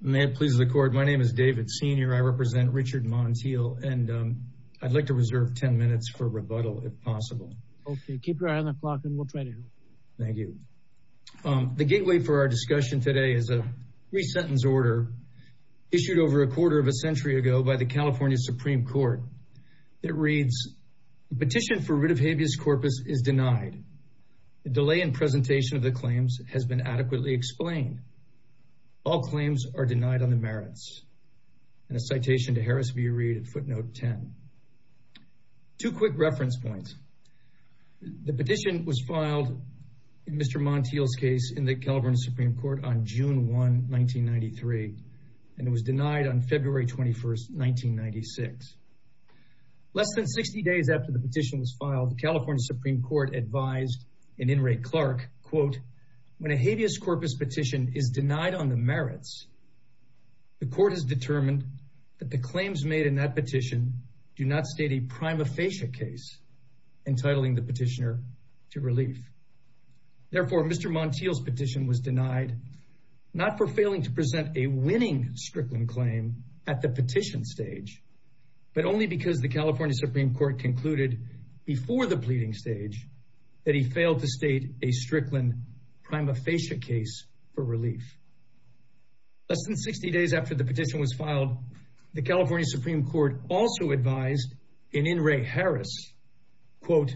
May it please the court my name is David senior I represent Richard Montiel and I'd like to reserve ten minutes for rebuttal if possible. Okay keep your eye on the clock and we'll try to go. Thank you. The gateway for our discussion today is a three-sentence order issued over a quarter of a century ago by the California Supreme Court. It reads petition for rid of habeas corpus is denied. The delay in presentation of the claims has been adequately explained. All claims are denied on the merits. In a citation to Harris v. Reed footnote 10. Two quick reference points. The petition was filed in Mr. Montiel's case in the California Supreme Court on June 1 1993 and it was denied on February 21st 1996. Less than 60 days after the petition was filed the California Supreme Court advised an In re Clark quote when a habeas corpus petition is denied on the merits. The court has determined that the claims made in that petition do not state a prima facie case entitling the petitioner to relief. Therefore Mr. Montiel's petition was denied not for failing to present a winning Strickland claim at the petition stage but only because the California Supreme Court concluded before the pleading stage that he failed to state a Strickland prima facie case for relief. Less than 60 days after the petition was filed the California Supreme Court also advised in In re Harris quote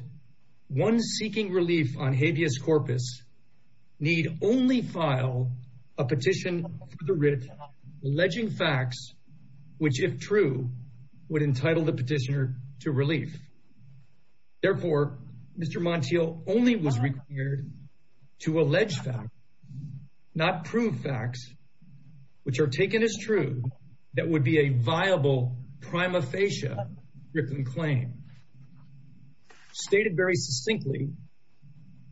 one seeking relief on habeas corpus need only file a petition for the rid of alleging facts which if true would entitle the petitioner to relief. Therefore Mr. Montiel only was required to allege facts not prove facts which are taken as true that would be a viable prima facie Strickland claim. Stated very succinctly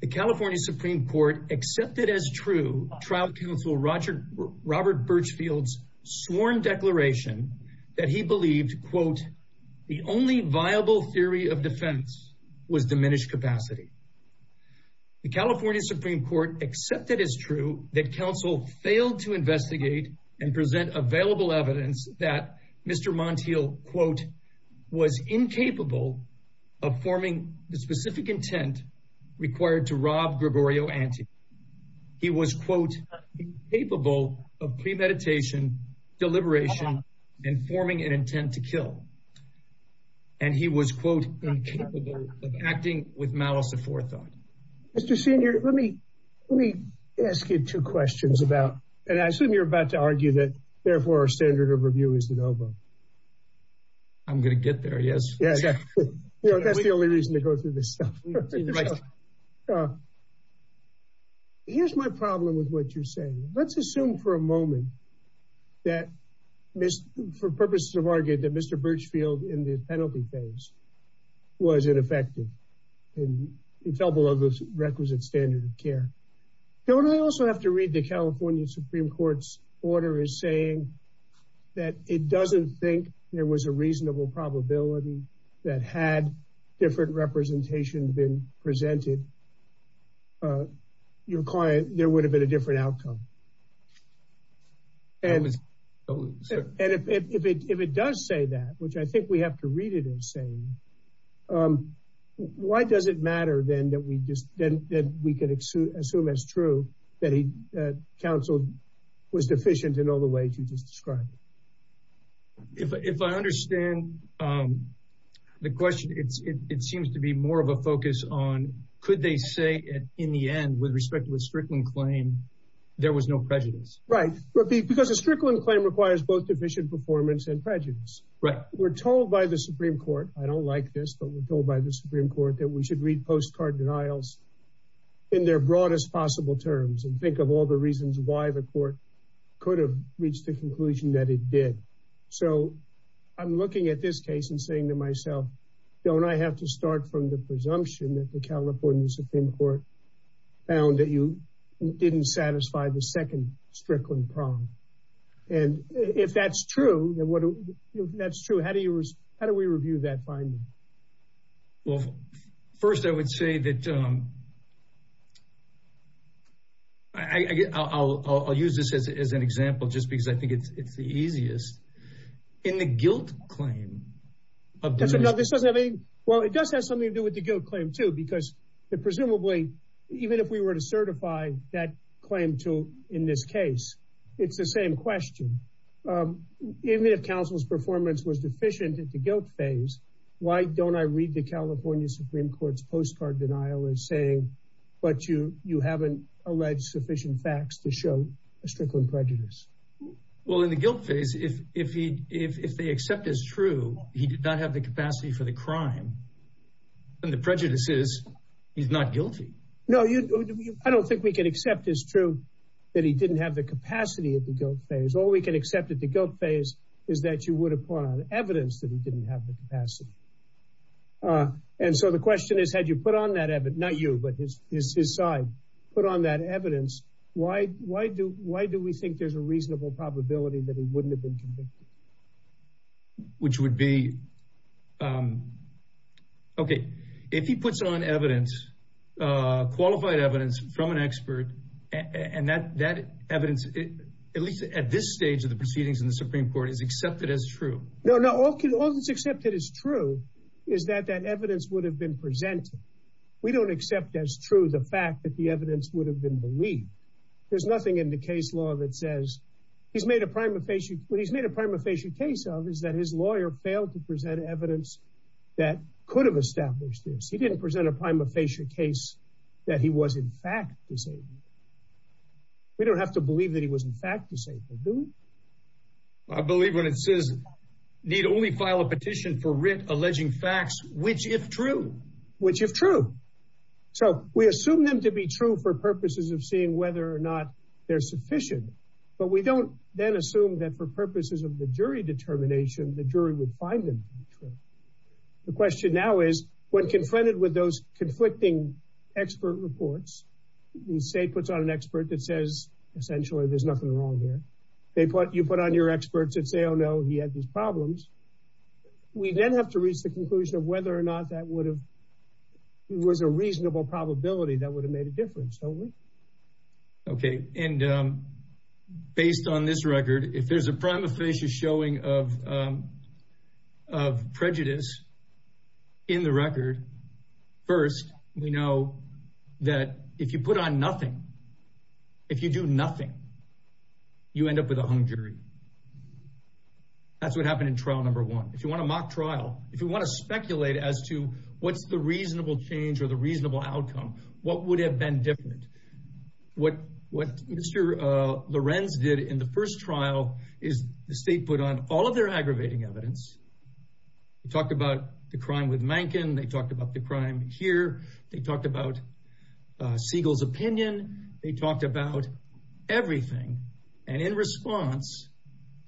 the California Supreme Court accepted as true trial counsel Roger Robert Birchfield's sworn declaration that he believed quote the only viable theory of defense was the California Supreme Court except that is true that counsel failed to investigate and present available evidence that Mr. Montiel quote was incapable of forming the specific intent required to rob Gregorio Ante. He was quote capable of premeditation deliberation and forming an intent to Mr. Senior let me let me ask you two questions about and I assume you're about to argue that therefore our standard of review is the no vote. I'm going to get there. Yes. Yeah. Yeah. That's the only reason to go through this stuff. Here's my problem with what you're saying. Let's assume for a moment that this for purposes of argued that Mr. Birchfield in the penalty phase was ineffective in a couple of those requisite standard of care. Don't I also have to read the California Supreme Court's order is saying that it doesn't think there was a reasonable probability that had different representation been presented your client. There would have been a different outcome and if it does say that which I think we have to read it as saying why does it matter then that we just then we can assume as soon as true that he counseled was deficient in all the ways you just described. If I understand the question it seems to be more of a focus on could they say in the end with respect to a certain claim there was no prejudice. Right. Because a strickling claim requires both deficient performance and prejudice. We're told by the Supreme Court I don't like this but we're told by the Supreme Court that we should read postcard denials in their broadest possible terms and think of all the reasons why the court could have reached the conclusion that it did. So I'm looking at this case and saying to myself don't I have to start from the presumption that the California Supreme Court found that you didn't satisfy the second strickling problem. And if that's true that's true how do you how do we review that finding. Well first I would say that I'll use this as an example just because I think it's the easiest. In the guilt claim. Well it does have something to do with the guilt claim too because the presumably even if we were to certify that claim to in this case it's the same question. Even if counsel's performance was deficient in the guilt phase. Why don't I read the California Supreme Court's postcard denial and say but you you haven't alleged sufficient facts to show a strickling prejudice. Well in the guilt phase if he if they accept this true he did not have the capacity for the crime. And the prejudice is he's not guilty. No I don't think we can accept this true that he didn't have the capacity of the guilt phase. All we can accept at the guilt phase is that you would apply the evidence that he didn't have the capacity. And so the question is had you put on that evidence not you but his side put on that evidence why why do why do we think there's a Okay if he puts on evidence qualified evidence from an expert and that that evidence at least at this stage of the proceedings in the Supreme Court is accepted as true. No no all that's accepted as true is that that evidence would have been presented. We don't accept as true the fact that the evidence would have been believed. There's nothing in the case law that says he's made a prima facie what he's made a prima facie case of is that his that could have established this. He didn't present a prima facie case that he was in fact disabled. We don't have to believe that he was in fact disabled do we? I believe when it says need only file a petition for writ alleging facts which if true. Which if true. So we assume them to be true for purposes of seeing whether or not they're sufficient. But we don't then assume that for purposes of the jury determination the jury would find them true. The question now is when confronted with those conflicting expert reports you say puts on an expert that says essentially there's nothing wrong there. They put you put on your experts that say oh no he had these problems. We then have to reach the conclusion of whether or not that would have was a reasonable probability that would have made a difference don't we? Okay and um based on this record if there's a prima facie showing of of prejudice in the record first we know that if you put on nothing if you do nothing you end up with a hung jury. That's what happened in trial number one. If you want to mock trial if you want to speculate as to what's the reasonable change or the reasonable outcome what would have been different. What what Mr. Lorenz did in the first trial is the state put on all of their aggravating evidence. Talked about the crime with Mankin. They talked about the crime here. They talked about Siegel's opinion. They talked about everything and in response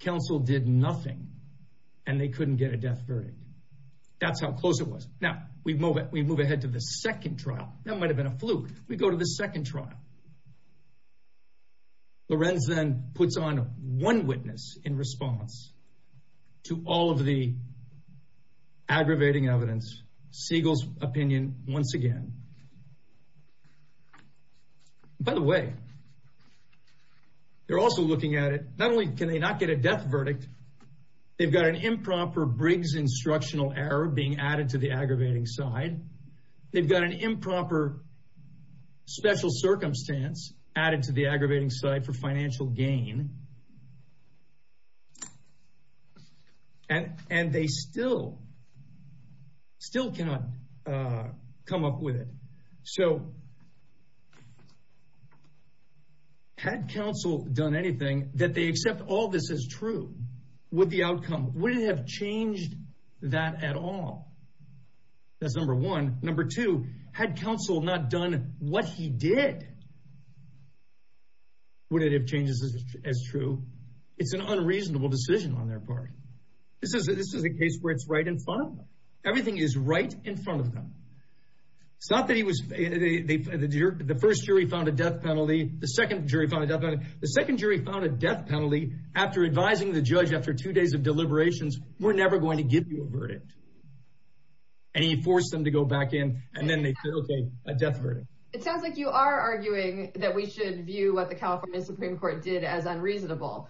counsel did nothing and they couldn't get a death verdict. That's how close it was. Now we move it we move ahead to the second trial. That might have been a fluke. We go to the second trial. Lorenz then puts on one witness in response to all of the aggravating evidence. Siegel's opinion once again. By the way they're also looking at it not only can they not get a death verdict they've got an improper Briggs instructional error being added to the aggravating side. They've got an improper special circumstance added to the aggravating side for financial gain and and they still still cannot come up with it. So had counsel done anything that they accept all this is true would the outcome wouldn't have changed that at all. That's number one. Number two had counsel not done what he did would it have changed as true. It's an unreasonable decision on their part. This is a case where it's right in front of them. Everything is right in front of them. It's not that he was the first jury found a death penalty the second jury found a death penalty. The second jury found a death penalty. It sounds like you are arguing that we should view what the California Supreme Court did as unreasonable.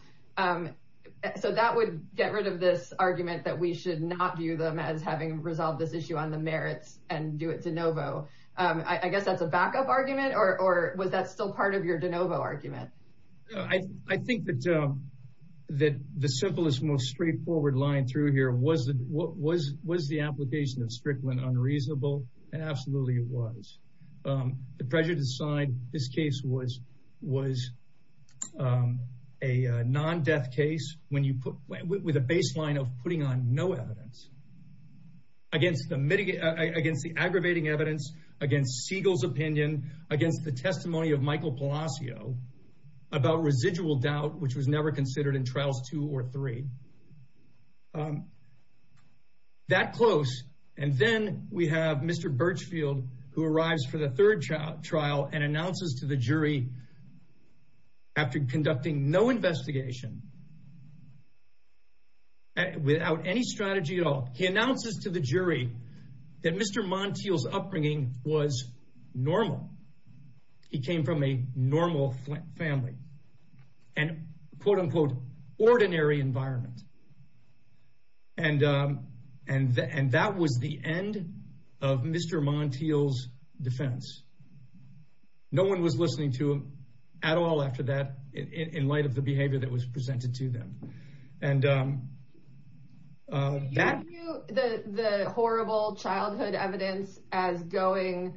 So that would get rid of this argument that we should not view them as having resolved this issue on the merits and do it de novo. I guess that's a backup argument or was that still part of your de novo argument. I think that the simplest most straightforward line through here was the application of Strickland unreasonable and absolutely it was. The prejudice side this case was was a non-death case when you put with a baseline of putting on no evidence against the aggravating evidence against Siegel's opinion against the testimony of Michael Palacio about residual doubt which was never considered in trials two or three. That close and then we have Mr. Birchfield who arrives for the third trial and announces to the jury after conducting no investigation without any strategy at all he announces to the jury that Mr. Montiel's upbringing was normal. He came from a normal family and quote-unquote ordinary environment and that was the end of Mr. Montiel's defense. No one was listening to him at all after that in light of the childhood evidence as going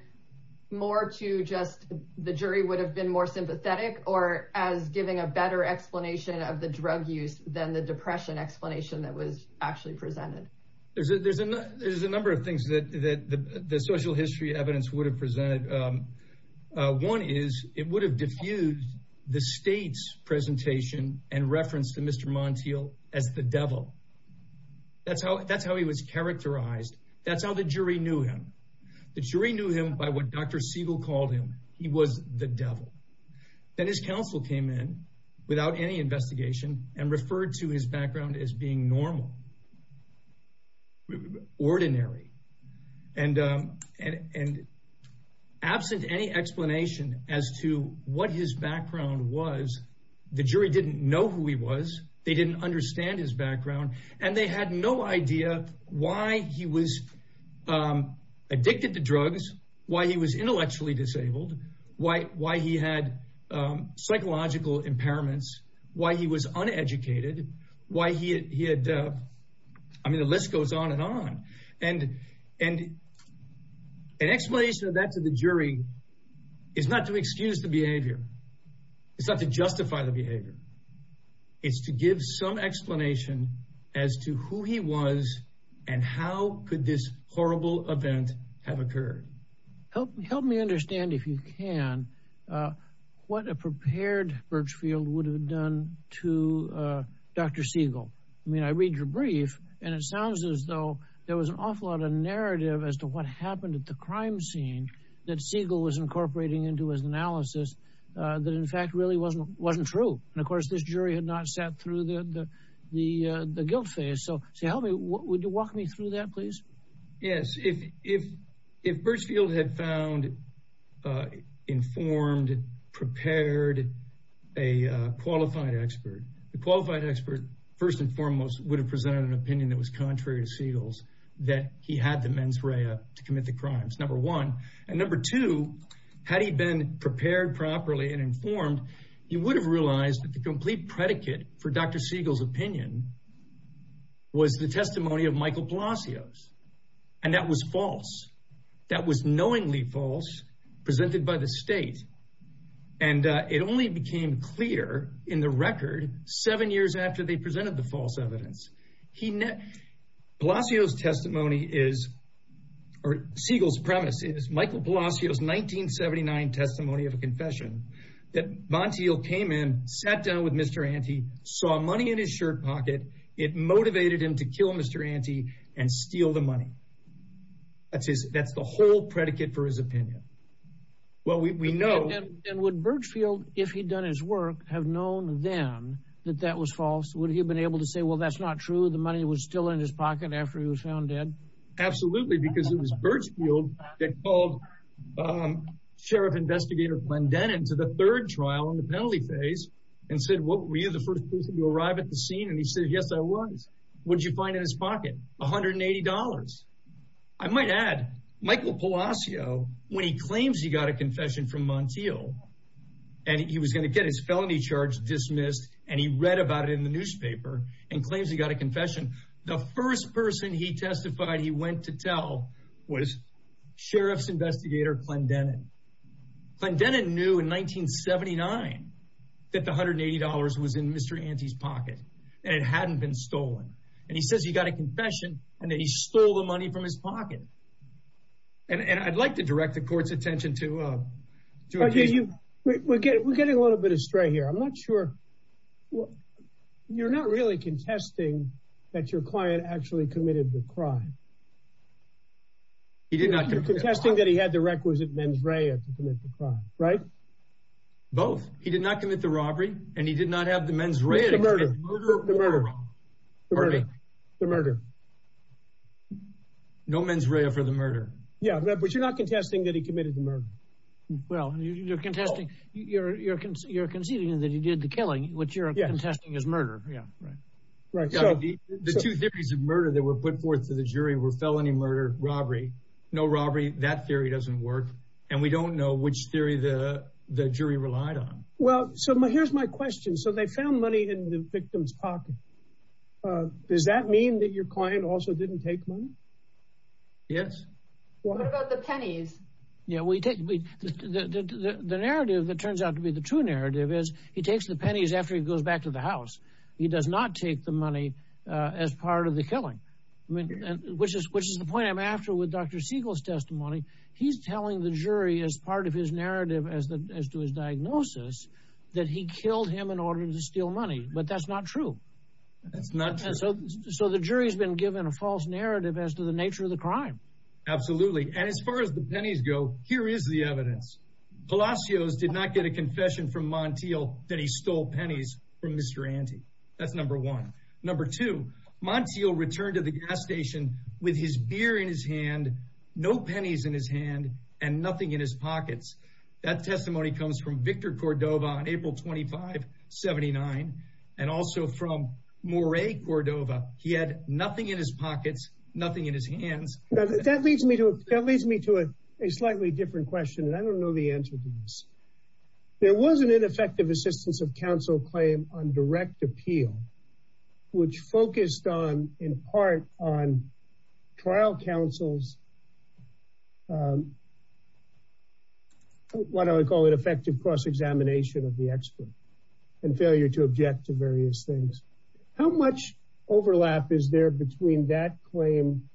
more to just the jury would have been more sympathetic or as giving a better explanation of the drug use than the depression explanation that was actually presented. There's a number of things that the social history evidence would have presented. One is it would have diffused the state's presentation and reference to Mr. Montiel as the That's how the jury knew him. The jury knew him by what Dr. Siegel called him. He was the devil. Then his counsel came in without any investigation and referred to his background as being normal, ordinary, and absent any explanation as to what his background was the jury didn't know who he was. They didn't understand his background and they had no idea why he was addicted to drugs, why he was intellectually disabled, why he had psychological impairments, why he was uneducated, why he had I mean the list goes on and on and an explanation of that to the jury is not to excuse the behavior. It's not to justify the explanation as to who he was and how could this horrible event have occurred. Help me understand if you can what a prepared Birchfield would have done to Dr. Siegel. I mean I read your brief and it sounds as though there was an awful lot of narrative as to what happened at the crime scene that Siegel was incorporating into his analysis that in fact really wasn't wasn't true and of course that through the the the guilt phase so tell me what would you walk me through that please. Yes if if if Birchfield had found informed, prepared, a qualified expert, the qualified expert first and foremost would have presented an opinion that was contrary to Siegel's that he had the mens rea to commit the crimes number one and number two had he been prepared properly and informed he would have realized that the complete predicate for Dr. Siegel's opinion was the testimony of Michael Palacios and that was false that was knowingly false presented by the state and it only became clear in the record seven years after they presented the false evidence. Palacios testimony is or Siegel's premise is Michael Palacios 1979 testimony of a confession that Montiel came in sat down with Mr. Ante saw money in his shirt pocket it motivated him to kill Mr. Ante and steal the money. That's the whole predicate for his opinion. Well we know. And would Birchfield if he'd done his work have known then that that was false would he have been able to say well that's not true the money was still in his pocket after he was found dead? Absolutely because it was Birchfield that called Sheriff Investigator Plendenon to the mentally phase and said what were you the first person to arrive at the scene and he said yes I was. What did you find in his pocket? $180. I might add Michael Palacios when he claims he got a confession from Montiel and he was going to get his felony charge dismissed and he read about it in the newspaper and claims he got a confession the first person he testified he went to tell was Sheriff's Investigator Plendenon. Plendenon knew in 1979 that the $180 was in Mr. Ante's pocket and it hadn't been stolen. And he says he got a confession and that he stole the money from his pocket. And I'd like to direct the court's attention to. We're getting a little bit astray here. I'm not sure. You're not really contesting that your client actually committed the crime. You're contesting that he had the requisite mens rea to commit the crime, right? Both. He did not commit the robbery and he did not have the mens rea. Murder. Murder. No mens rea for the murder. Yeah, but you're not contesting that he committed the murder. Well, you're contesting that he did the killing which you're contesting as murder. The two theories of murder that were put forth to the jury were felony murder, robbery, no robbery. That theory doesn't work. And we don't know which theory the jury relied on. Well, so here's my question. So they found money in the victim's pocket. Does that mean that your client also didn't take money? Yes. What about the pennies? Yeah, we take the narrative that turns out to be the true narrative is he takes the pennies after he goes back to the house. He does not take the money as part of the killing, which is which is the point I'm after with Dr. Siegel's testimony. He's telling the jury as part of his narrative as to his diagnosis that he killed him in order to steal money. But that's not true. So the jury has been given a false narrative as to the nature of the crime. Absolutely. And as far as the pennies go, here is the evidence. Palacios did not get a confession from Montiel that he stole pennies from Mr. Ante. That's number one. Number two, Montiel returned to the gas station with his beer in his hand, no pennies in his hand, and nothing in his pockets. That testimony comes from Victor Cordova on April 25, 79. And also from Moray Cordova. He had nothing in his pockets, nothing in his hands. That leads me to a slightly different question, and I don't know the answer to this. There was an ineffective assistance of counsel claim on direct appeal, which focused on, in part, on trial counsel's what I would call an effective cross-examination of the expert and failure to object to various things. How much overlap is there between that claim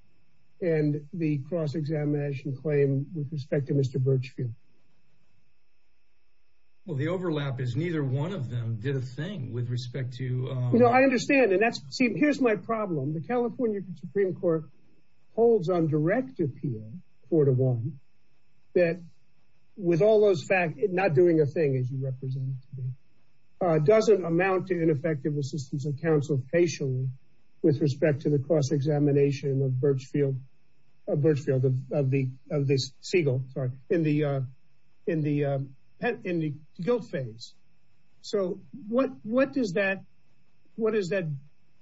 and the cross-examination claim with respect to Mr. Birchfield? Well, the overlap is neither one of them did a thing with respect to... I understand. And that's, see, here's my problem. The California Supreme Court holds on direct appeal, Cordova, that with all those facts, not doing a thing, as you represent, doesn't amount to ineffective assistance of counsel patiently with respect to the cross-examination of Birchfield, of this Siegel, sorry, in the guilt phase. So what does that, what does that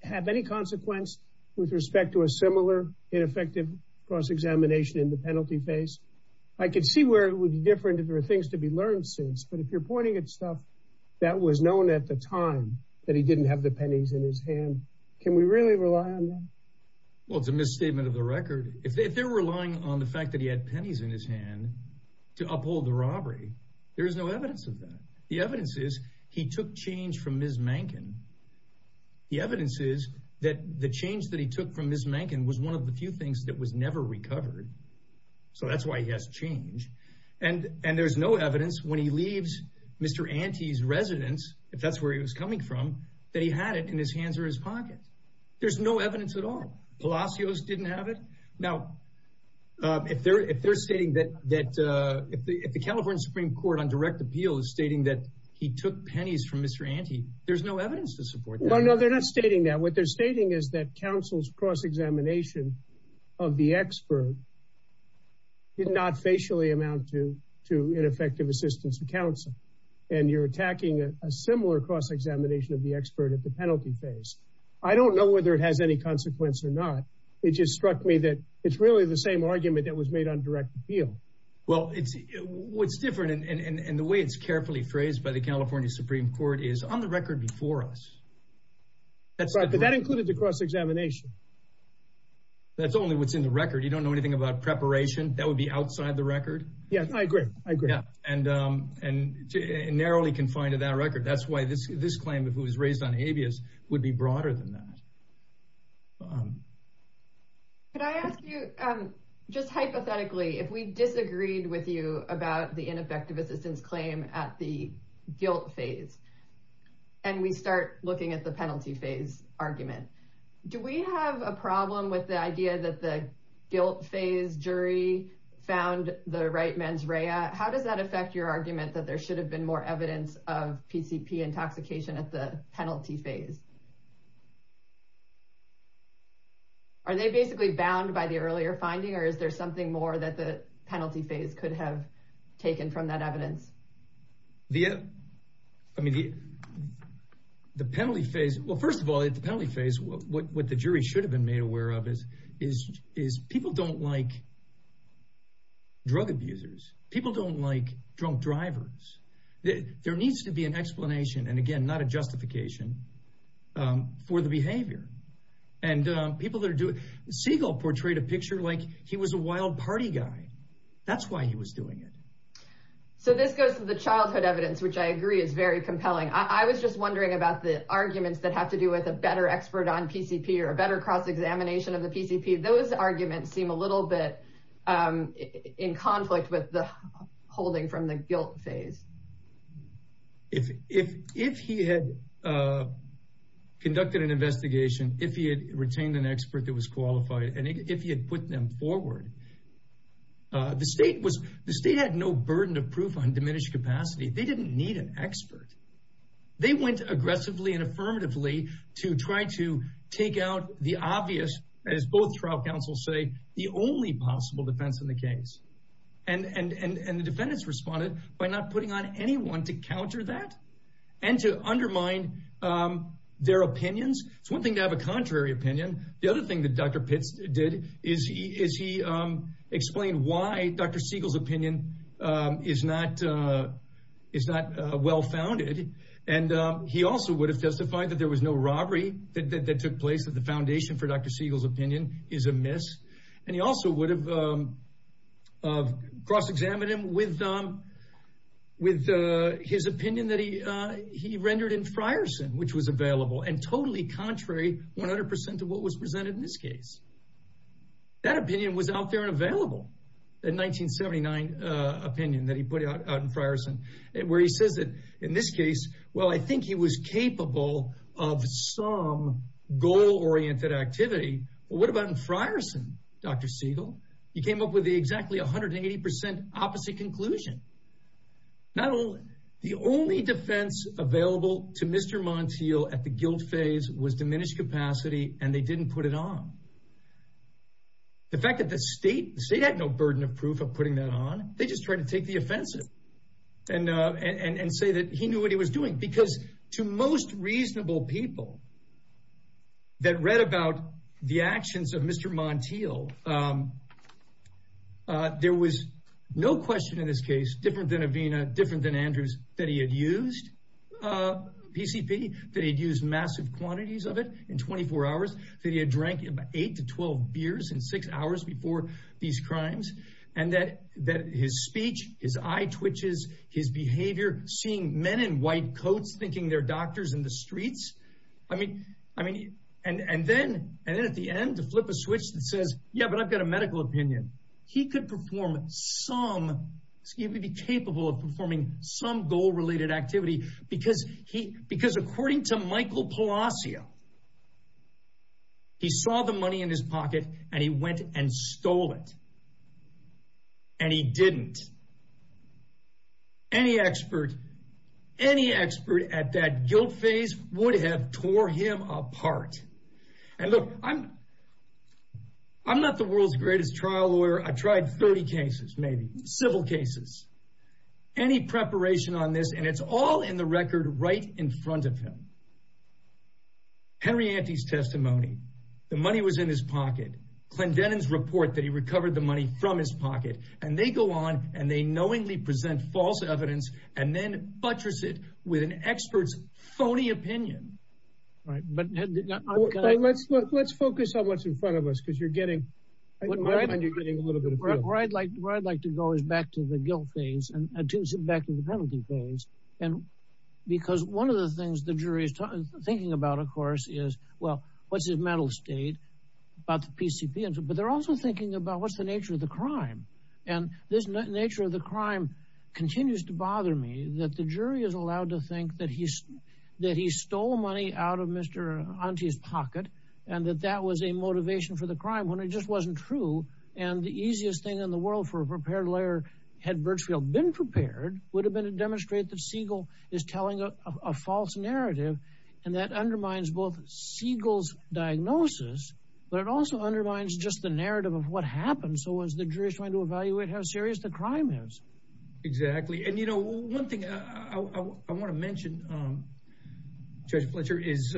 have any consequence with respect to a similar ineffective cross-examination in the penalty phase? I could see where it would be different if there were things to be learned since, but if you're pointing at stuff that was known at the time that he didn't have the pennies in his hand, can we really rely on that? Well, it's a misstatement of the record. If they were relying on the fact that he had pennies in his hand to uphold the robbery, there is no evidence of that. The evidence is he took change from Ms. Mankin. The evidence is that the change that he took from Ms. Mankin was one of the few things that was never recovered. So that's why he has change. And there's no evidence when he leaves Mr. Ante's residence, if that's where he was coming from, that he had it in his hands or his pocket. There's no evidence at all. Palacios didn't have it. Now, if they're stating that, if the California Supreme Court on direct appeal is stating that he took pennies from Mr. Ante, there's no evidence to support that. No, no, they're not stating that. What they're stating is that counsel's cross-examination of the expert did not facially amount to ineffective assistance to counsel. And you're attacking a similar cross-examination of the expert at the penalty phase. I don't know whether it has any consequence or not. It just struck me that it's really the same argument that was made on direct appeal. Well, what's different and the way it's carefully phrased by the California Supreme Court is on the record before us. That included the cross-examination. That's only what's in the record. You don't know anything about preparation. That would be outside the record. Yes, I agree. I agree. And narrowly confined to that record. That's why this claim of who was raised on habeas would be broader than that. Could I ask you, just hypothetically, if we disagreed with you about the ineffective assistance claim at the guilt phase, and we start looking at the penalty phase argument, do we have a problem with the idea that the guilt phase jury found the right mens rea? How does that affect your argument that there should have been more evidence of PCP intoxication at the penalty phase? Are they basically bound by the earlier finding, or is there something more that the penalty phase could have taken from that evidence? I mean, the penalty phase, well, first of all, at the penalty phase, what the jury should have been made aware of is people don't like drug abusers. People don't like drunk drivers. There needs to be an explanation, and again, not a justification, for the behavior. And people that are doing it, Siegel portrayed a picture like he was a wild party guy. That's why he was doing it. So this goes to the childhood evidence, which I agree is very compelling. I was just wondering about the arguments that have to do with a better expert on PCP or a better cross-examination of the PCP. Those arguments seem a little bit in conflict with the holding from the guilt phase. If he had conducted an investigation, if he had retained an expert that was qualified, and if he had put them forward, the state had no burden of proof on diminished capacity. They didn't need an expert. They went aggressively and affirmatively to try to take out the obvious, as both trial counsels say, the only possible defense in the case. And the defendants responded by not putting on anyone to counter that and to undermine their opinions. It's one thing to have a contrary opinion. The other thing that Dr. Pitts did is he explained why Dr. Siegel's opinion is not well-founded. And he also would have testified that there was no robbery that took place, that the foundation for Dr. Siegel's opinion is amiss. And he also would have cross-examined him with his opinion that he rendered in Frierson, which was available, and totally contrary 100% to what was presented in this case. That opinion was out there and available, that 1979 opinion that he put out in Frierson, where he says that in this case, well, I think he was capable of some goal-oriented activity. But what about in Frierson, Dr. Siegel? He came up with exactly 180% opposite conclusion. Not only the only defense available to Mr. Montiel at the guilt phase was diminished capacity, and they didn't put it on. The fact that the state had no burden of proof of putting that on, they just tried to take the offensive and say that he knew what he was doing. Because to most reasonable people that read about the actions of Mr. Montiel, there was no question in this case, different than Avina, different than Andrews, that he had used PCP, that he'd used massive quantities of it in 24 hours, that he had drank eight to 12 beers in six hours before these crimes, and that his speech, his eye twitches, his behavior, seeing men in white coats thinking they're doctors in the streets, I mean, and then at the end, to flip a switch that says, yeah, but I've got a medical opinion. He could perform some, he would be capable of performing some goal-related activity, because according to Michael Palacios, he saw the money in his pocket, and he went and stole it. And he didn't. Any expert, any expert at that guilt phase would have tore him apart. And look, I'm not the world's greatest trial lawyer. I tried 30 cases, maybe, civil cases. Any preparation on this, and it's all in the record right in front of him. Henry Ante's testimony, the money was in his pocket. Clendenin's report that he recovered the money from his pocket, and they go on, and they knowingly present false evidence, and then buttress it with an expert's phony opinion. Right, but let's focus on what's in front of us, because you're getting, where I'd like to go is back to the guilt phase, and back to the penalty phase, and because one of the things the jury is thinking about, of course, is, well, what's mental state about the PCP, but they're also thinking about what's the nature of the crime. And this nature of the crime continues to bother me, that the jury is allowed to think that he stole money out of Mr. Ante's pocket, and that that was a motivation for the crime, when it just wasn't true. And the easiest thing in the world for a prepared lawyer, had Birchfield been prepared, would have been to demonstrate that Siegel is telling a false narrative, and that undermines both Siegel's diagnosis, but it also undermines just the narrative of what happened, so as the jury is trying to evaluate how serious the crime is. Exactly, and you know, one thing I want to mention, Judge Fletcher, is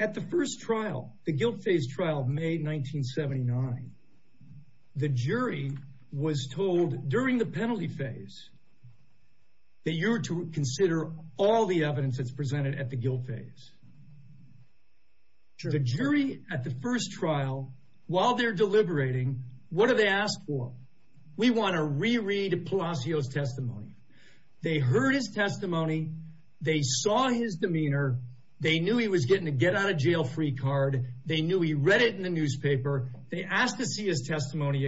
at the first trial, the guilt phase trial of May 1979, the jury was told during the penalty phase, that you were to consider all the evidence that's presented at the guilt phase. The jury at the first trial, while they're deliberating, what do they ask for? We want to reread Palacios' testimony. They heard his testimony, they saw his demeanor, they knew he was getting a get out of jail free card, they knew he read it in the newspaper, they asked to see his testimony.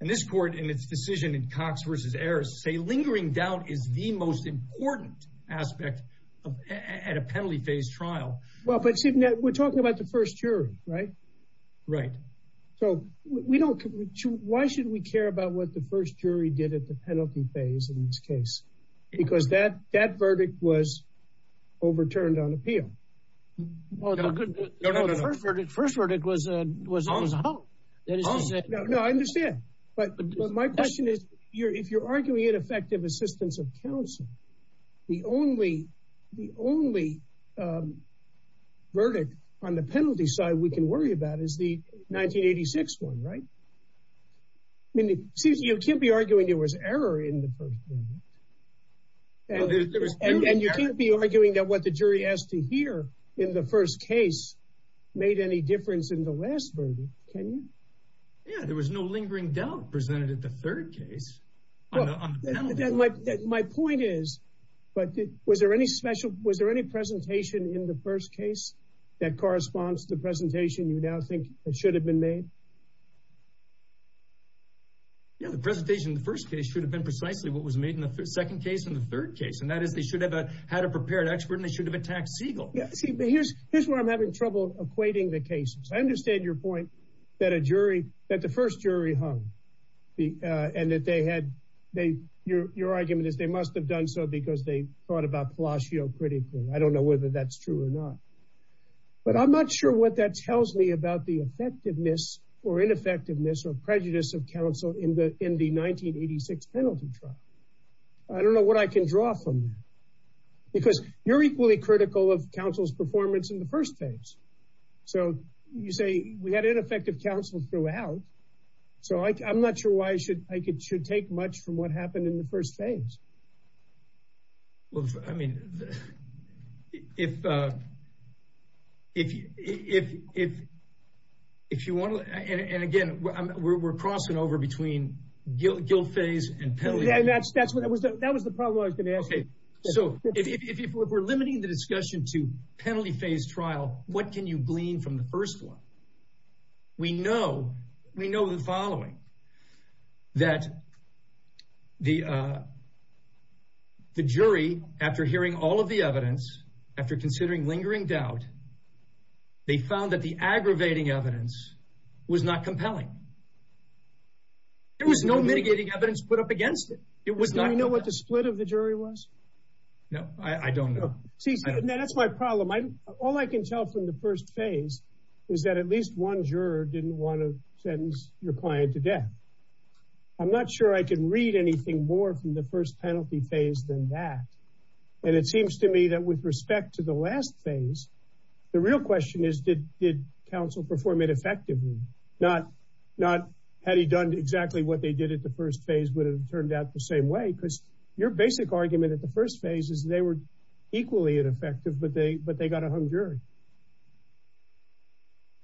And this court, in its decision in Cox versus Ayers, say lingering doubt is the most important aspect at a penalty phase trial. Well, but we're talking about the first jury, right? Right. So why should we care about what the first jury did at the penalty phase in this case? Because that verdict was overturned on appeal. Well, the first verdict was out. No, I understand. But my question is, if you're arguing ineffective assistance of counsel, the only verdict on the penalty side we can worry about is the 1986 one, right? You can't be arguing there was error in the first one. And you can't be arguing that what the jury asked to hear in the first case made any difference in the last verdict, can you? Yeah, there was no lingering doubt presented at the third case. My point is, but was there any special, was there any presentation in the first case that corresponds to the presentation you now think should have been made? Yeah, the presentation in the first case should have been precisely what was made in the second case and the third case. And that is, they should have had a prepared expert and they should have attacked Siegel. Here's where I'm having trouble equating the cases. I understand your point that a jury, that the first jury hung and that they had, your argument is they must have done so because they thought about Palacio critically. I don't know whether that's true or not. But I'm not sure what that tells me about the effectiveness or ineffectiveness or prejudice of in the 1986 penalty trial. I don't know what I can draw from that because you're equally critical of counsel's performance in the first case. So you say we had ineffective counsel throughout. So I'm not sure why I should take much from what happened in the first case. Well, I mean, if you want to, and again, we're crossing over between guilt phase and penalty. Yeah, that was the problem I was going to ask. Okay, so if we're limiting the discussion to penalty phase trial, what can you glean from the first one? We know the following, that the jury, after hearing all of the evidence, after considering lingering doubt, they found that the aggravating evidence was not compelling. There was no mitigating evidence put up against it. Do you know what the split of the jury was? No, I don't know. See, that's my problem. All I can tell from the first phase is that at least one juror didn't want to sentence your client to death. I'm not sure I can read anything more from the first penalty phase than that. And it seems to me that with respect to the last phase, the real question is, did counsel perform it effectively? Not had he done exactly what they did at the first phase, would it have turned out the same way? Because your basic argument at the first phase is they were equally ineffective, but they got a hung jury.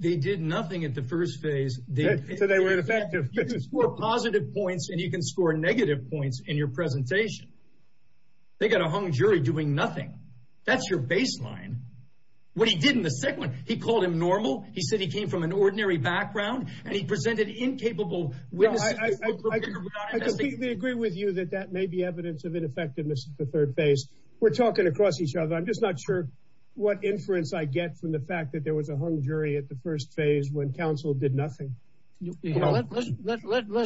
They did nothing at the first phase. So they were ineffective. You can score positive points and you can score negative points in your presentation. They got a hung jury doing nothing. That's your baseline. What he did in the second one, he called him normal. He said he came from an ordinary background and he presented incapable. We agree with you that that may be evidence of ineffectiveness at the third phase. We're talking across each other. I'm just not sure what inference I get from the fact that there was a hung jury at the first phase when counsel did nothing. Let's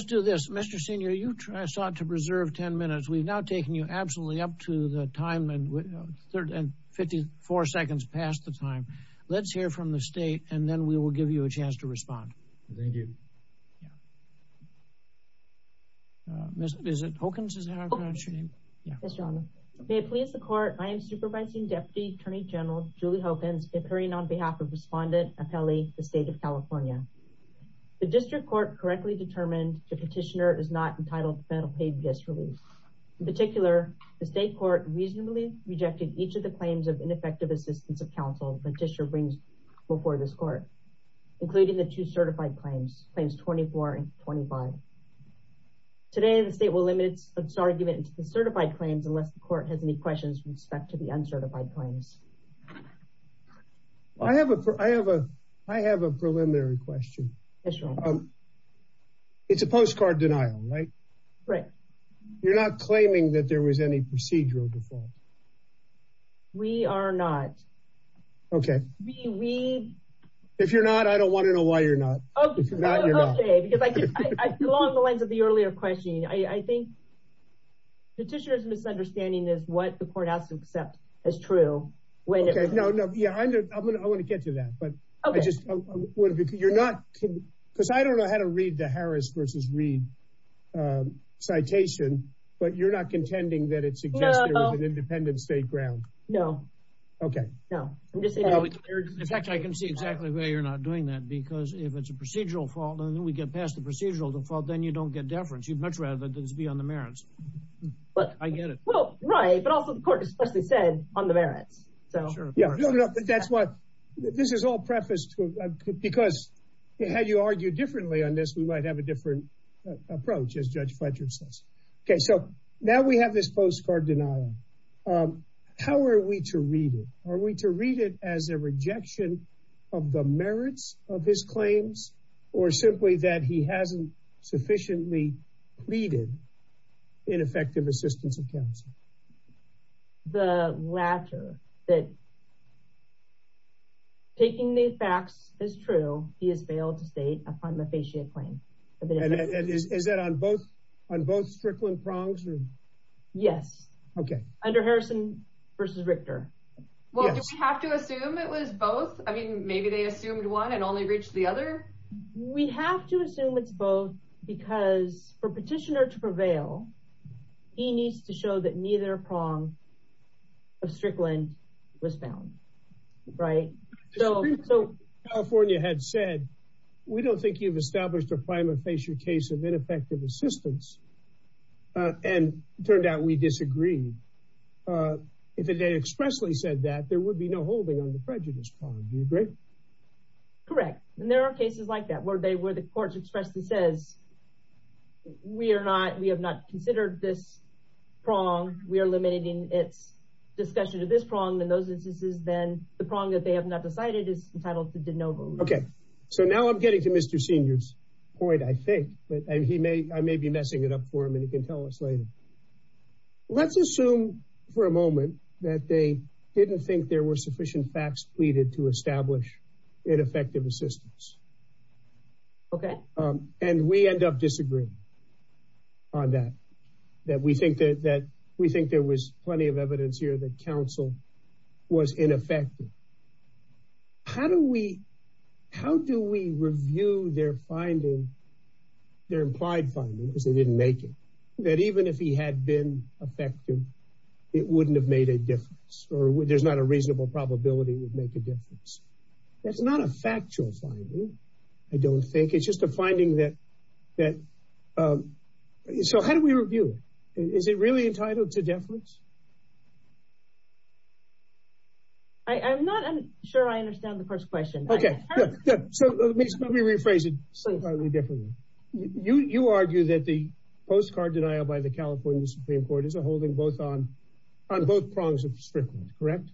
do this. Mr. Senior, you sought to preserve 10 minutes. We've now taken you absolutely up to the time and 54 seconds past the time. Let's hear from the state and then we will give you a chance to respond. Thank you. Ms. Hawkins, is that how I pronounce your name? Yes, Your Honor. May it please the Court, I am Supervising Deputy Attorney General Julie Hawkins, appearing on behalf of Respondent Appelli, the State of California. The District Court correctly determined the Petitioner is not entitled to federal paid disrelease. In particular, the State Court reasonably rejected each of the claims of ineffective assistance of counsel the Petitioner brings before this Court, including the two certified claims, claims 24 and 25. Today, the State will limit this argument to certified claims unless the Court has any questions with respect to the uncertified claims. I have a preliminary question. It's a postcard denial, right? Right. You're not claiming that there was any procedural before? We are not. Okay. If you're not, I don't want to know why you're not. Okay, because I saw the length of the earlier question. I think Petitioner's misunderstanding is what the Court has to accept as true. No, no. Yeah, I'm going to get to that. Because I don't know how to read the Harris versus Reed citation, but you're not contending that it's an independent state ground? No. Okay. No. In fact, I can see exactly why you're not doing that, because if it's a procedural fault, and then we get past the procedural default, then you don't get deference. You'd much rather this be on the merits. I get it. Well, right. But also, of course, as we said, on the merits. That's what, this is all preface, because had you argued differently on this, we might have a different approach, as Judge Fletcher says. Okay, so now we have this postcard denial. How are we to read it? Are we to read it as a rejection of the merits of his claims, or simply that he hasn't sufficiently pleaded ineffective assistance of counsel? The latter, that taking these facts as true, he has failed to state a prima facie claim. And is that on both Strickland prongs? Yes. Okay. Under Harrison versus Richter. Well, do we have to assume it was both? I mean, maybe they assumed one and only reached the other? We have to assume it's both, because for petitioner to prevail, he needs to show that neither prong of Strickland was found. Right? So- Correct. And there are cases like that, where the court expressly says, we are not, we have not considered this prong. We are eliminating discussion of this prong, in those instances, then the prong that they have not decided is entitled to de novo. Okay. So now I'm getting to Mr. Senior's point, I think, and he may, I may be messing it up for him and he can tell us later. Let's assume for a moment that they didn't think there were sufficient facts pleaded to establish ineffective assistance. Okay. And we end up disagreeing on that, that we think that, that we think there was plenty of evidence here that counsel was ineffective. How do we, how do we review their finding, their implied finding, because they didn't make it, that even if he had been effective, it wouldn't have made a difference, or there's not a reasonable probability it would make a difference. That's not a factual finding, I don't think. It's just a finding that, that, so how do we review it? Is it really entitled to de novo? I, I'm not, I'm sure I understand the first question. Okay. So let me, let me rephrase it slightly differently. You, you argue that the postcard denial by the California Supreme Court is a holding both on, on both prongs of Strickland, correct?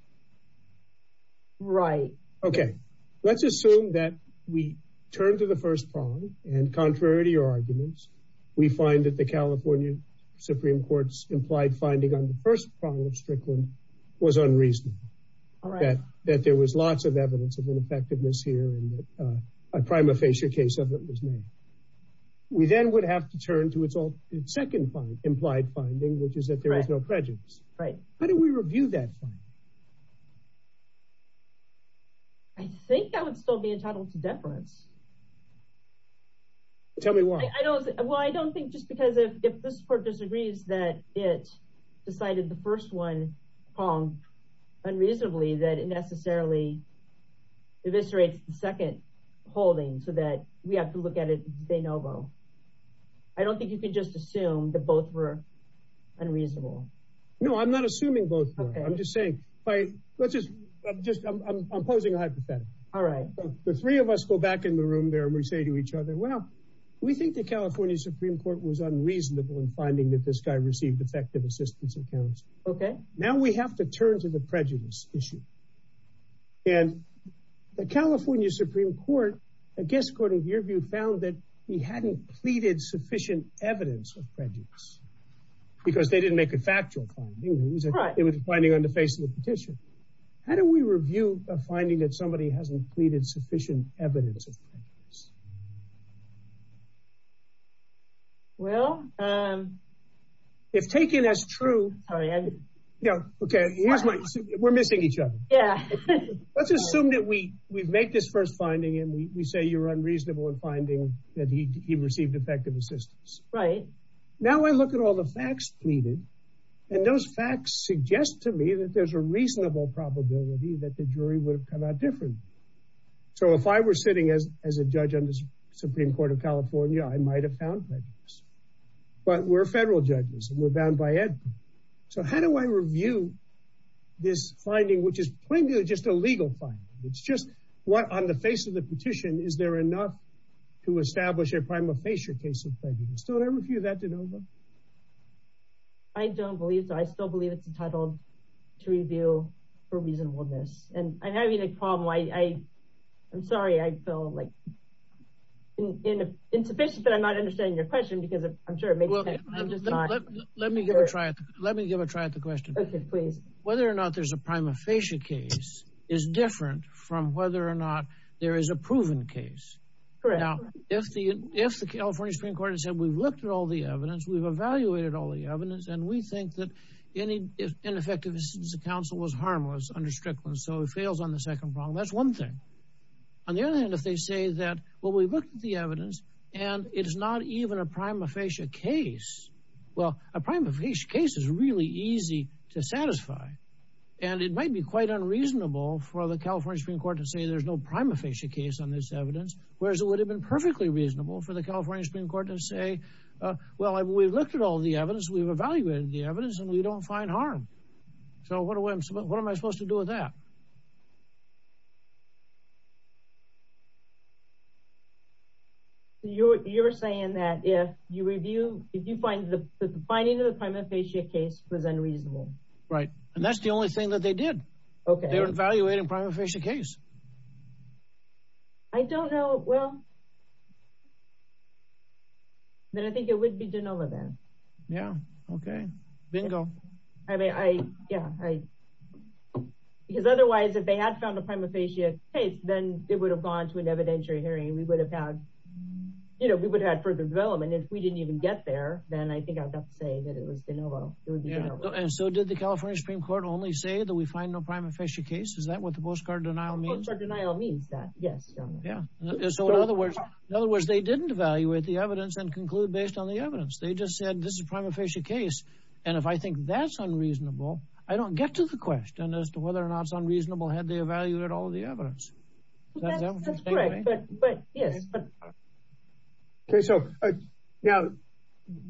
Right. Okay. Let's assume that we turn to the first prong and contrary to your arguments, we find that the California Supreme Court's implied finding on the first prong of Strickland was unreasonable. All right. That, that there was lots of evidence of ineffectiveness here and a prima facie case of what was made. We then would have to turn to its second prong, implied finding, which is that there is no prejudice. Right. How do we review that finding? I think that would still be entitled to deference. Tell me why. I don't, well, I don't think just because if this court disagrees that it decided the first one pronged unreasonably, that it necessarily eviscerates the second holding so that we have to look at it de novo. I don't think you could just assume that both were unreasonable. No, I'm not assuming both. Okay. I'm just saying, I'm just, I'm, I'm, I'm posing a hypothetical. All right. The three of us go back in the room there and we say to each other, well, we think the California Supreme Court was unreasonable in finding that this guy received effective assistance. Okay. Now we have to turn to the prejudice issue and the California Supreme Court, I guess, according to your view, found that he hadn't pleaded sufficient evidence of prejudice because they didn't make a factual finding. It was a finding on the face of the petition. How do we review a finding that somebody hasn't pleaded sufficient evidence of prejudice? Well, um, if taken as true, yeah. Okay. We're missing each other. Let's assume that we, we've made this first finding and we say you're unreasonable in finding that he received effective assistance. Right. Now I look at all the facts pleaded and those facts suggest to me that there's a reasonable probability that the jury would have come out differently. So if I were sitting as, as a judge on the Supreme Court of California, I might've found prejudice. But we're federal judges and we're bound by ed. So how do I review this finding, which is plainly just a legal finding. It's just what on the face of the petition, is there enough to establish a prima facie case of prejudice? Don't I review that? I don't believe that. I still believe it's entitled to review for reasonableness and I'm having a problem. I, I, I'm sorry. I feel like insufficient, but I'm not understanding your question because I'm sure it makes sense. Let me give a try. Let me give a try at the question. Whether or not there's a prima facie case is different from whether or not there is a proven case. If the, if the California Supreme Court has said, we've looked at all the evidence, we've evaluated all the evidence, and we think that any ineffectiveness of the council was harmless, unrestricted. So it fails on the second problem. That's one thing. On the other hand, if they say that, well, we looked at the evidence and it is not even a prima facie case. Well, a prima facie case is really easy to satisfy. And it might be quite unreasonable for the California Supreme Court to say there's no prima facie case on this evidence. Whereas it would have perfectly reasonable for the California Supreme Court to say, well, we've looked at all the evidence. We've evaluated the evidence and we don't find harm. So what do I, what am I supposed to do with that? You're, you're saying that if you review, if you find the finding of the prima facie case was unreasonable. Right. And that's the only thing that they did. Okay. They were then I think it would be done all of them. Yeah. Okay. Bingo. I mean, I, yeah, I, because otherwise if they had found the time to face it, then it would have gone to an evidentiary hearing. We would have had, you know, we would have had further development if we didn't even get there. Then I think I'd have to say that it was, you know, it was, you know, and so did the California Supreme Court only say that we find no prima facie case? Is that what the postcard denial means? Yeah. So in other words, in other words, they didn't evaluate the evidence and conclude based on the evidence. They just said, this is a prima facie case. And if I think that's unreasonable, I don't get to the question as to whether or not it's unreasonable. Had they evaluated all the evidence. Okay. So yeah,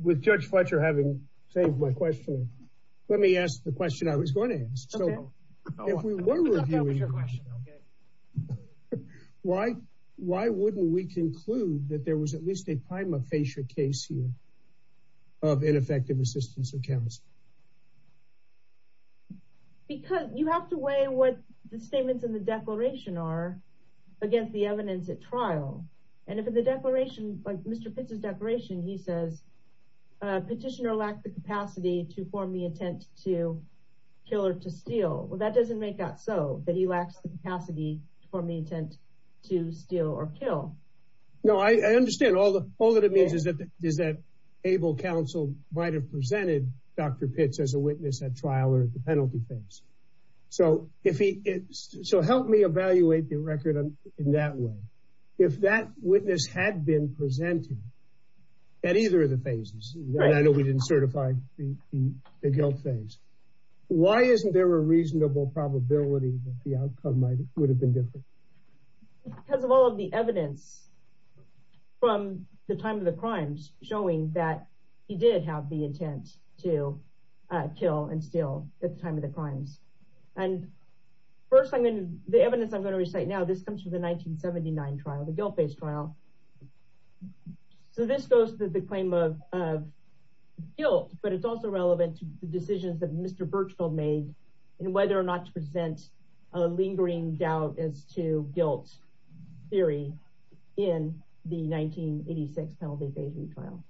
with judge Fletcher, having saved my question, let me ask the question I was going to ask. Why, why wouldn't we conclude that there was at least a prima facie case here of ineffective assistance in Kansas? Because you have to weigh what the statements in the declaration are against the evidence at trial. And if in the declaration, like Mr. Pitts' declaration, he says a petitioner lacks the capacity to form the intent to kill or to steal. Well, that doesn't make out so that he lacks the capacity to form the intent to steal or kill. No, I understand all the, all that it means is that, is that able counsel might have presented Dr. Pitts as a witness at trial or at the penalty So if he, so help me evaluate the record in that way. If that witness had been presented at either of the phases, I know we didn't certify the adult phase. Why isn't there a reasonable probability that the outcome might have been different? Because of all of the evidence from the time of the crimes showing that he did have the intent to kill and steal at the time of the crime. And the evidence I'm going to recite now, this comes from the 1979 trial, the guilt-based trial. So this goes to the claim of guilt, but it's also relevant to the decisions that Mr. Birchfield made and whether or not to present a lingering doubt as to guilt theory in the 1986 penalty phasing trial.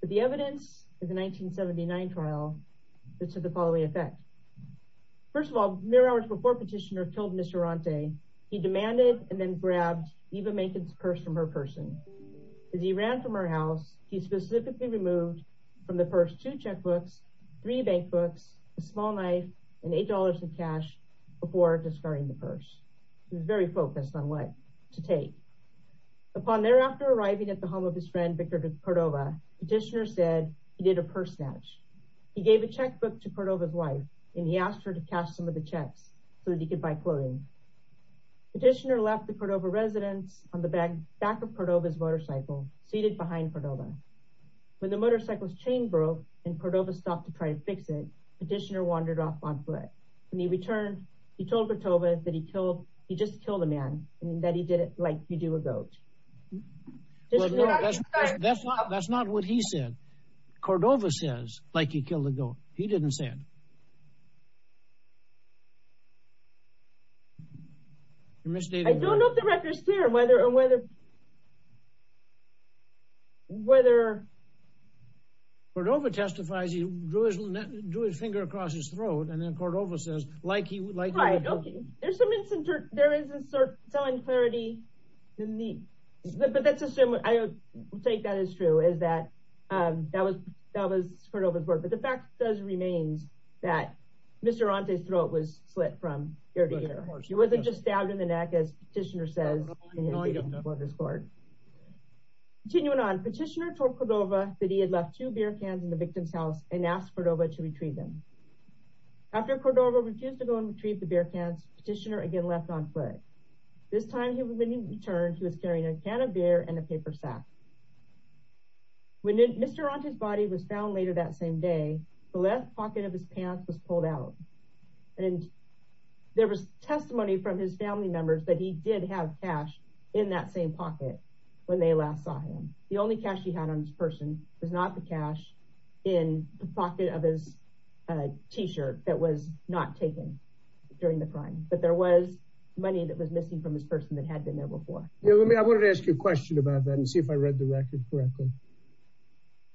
But the evidence in the 1979 trial is to the following effect. First of all, mere hours before petitioner killed Mr. Arante, he demanded and then grabbed Eva Mankin's purse from her person. As he ran from her house, he specifically removed from the purse two checkbooks, three bankbooks, a small knife, and $8 of cash before discarding the purse. He was very focused to take. Upon thereafter arriving at the home of his friend, Victor Cordova, petitioner said he did a purse snatch. He gave a checkbook to Cordova's wife, and he asked her to cash some of the checks so that he could buy clothing. Petitioner left the Cordova residence on the back of Cordova's motorcycle, seated behind Cordova. When the motorcycle's chain broke and Cordova stopped to try to fix it, petitioner wandered off on foot. When he returned, he told Cordova that he just killed a man, and that he did it like you do a goat. That's not what he said. Cordova says like he killed a goat. He didn't say it. I don't know if the record's clear whether... Cordova testifies he drew his finger across his throat, and then Cordova says like he would like to kill a goat. There's some instance there isn't selling clarity to me, but I would say that is true, is that that was that was Cordova's word, but the fact does remain that Mr. Arante's throat was slit from ear to ear. He wasn't just stabbed in the neck, as petitioner says. Continuing on, petitioner told Cordova that he had left two beer cans in and asked Cordova to retrieve them. After Cordova refused to go and retrieve the beer cans, petitioner again left on foot. This time, he was given a can of beer and a paper sack. When Mr. Arante's body was found later that same day, the left pocket of his pants was pulled out, and there was testimony from his family members that he did have cash in that same pocket when they last saw him. The only cash he had on this person was not the cash in the pocket of his t-shirt that was not taken during the crime, but there was money that was missing from this person that had been there before. I wanted to ask you a question about that and see if I read the record correctly.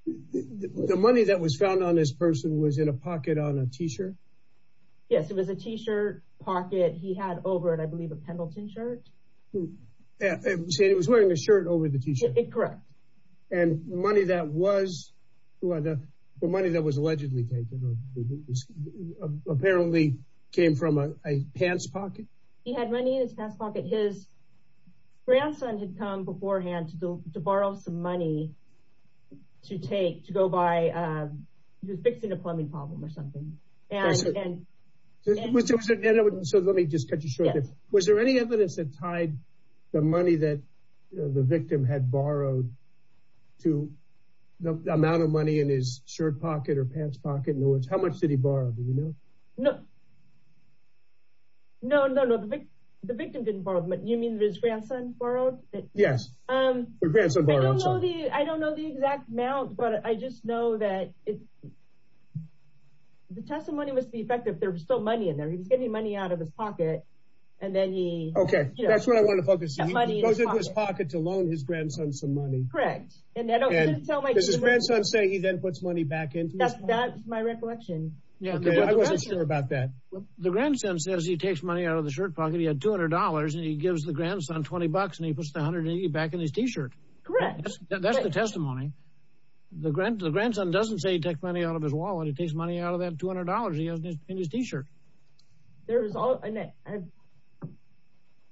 The money that was found on this person was in a pocket on a t-shirt? Yes, it was a t-shirt pocket. He had over it, I believe, a Pendleton shirt. You said he was wearing a shirt over the t-shirt? Correct. And the money that was allegedly taken apparently came from a pants pocket? He had money in his pants pocket. His grandson had come beforehand to borrow some money to go buy the victim a plumbing problem or something. Let me just cut you short. Was there any evidence that tied the money that the victim had borrowed to the amount of money in his shirt pocket or pants pocket? How much did he borrow? No, the victim didn't borrow, but you mean his grandson borrowed? Yes. I don't know the exact amount, but I just know that the testimony must be effective. There's still money in there. He's getting money out of his pocket and then he... Okay, that's what I want to focus on. He goes in his pocket to loan his grandson some money. Correct. Does his grandson say he then puts money back in? That's my recollection. Yeah, I wasn't sure about that. The grandson says he takes money out of the shirt pocket. He had $200 and he gives the grandson 20 bucks and he puts the 180 back in his t-shirt. Correct. That's the testimony. The grandson doesn't say he takes money out of his wallet. He takes money out of that $200 he has in his t-shirt.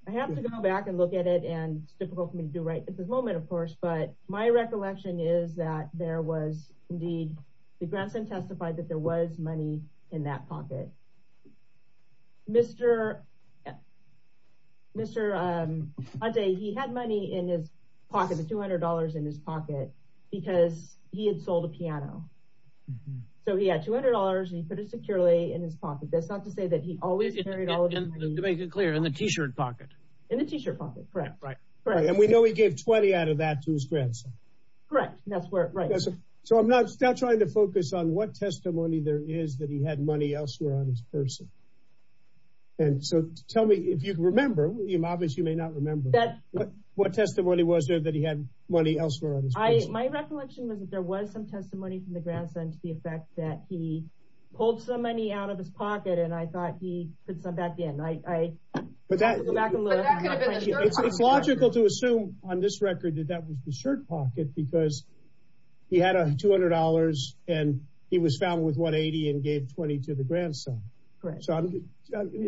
I have to go back and look at it and difficult for me to do right at this moment, of course, but my recollection is that there was indeed, the grandson testified that there was money in that pocket. Mr. Aude, he had money in his pocket, the $200 in his pocket, because he had sold a piano. So he had $200 and he put it securely in his pocket. That's not to say that he always carried all of his money. To make it clear, in the t-shirt pocket? In the t-shirt pocket, correct. And we know he gave 20 out of that to his grandson. Correct. That's where, right. So I'm not trying to focus on what testimony there is that he had money elsewhere on his person. And so tell me if you remember him, obviously you may not remember, what testimony was there that he had money elsewhere? My recollection was that there was some testimony from the grandson to the effect that he pulled some money out of his on this record that that was the shirt pocket because he had $200 and he was found with 180 and gave 20 to the grandson. So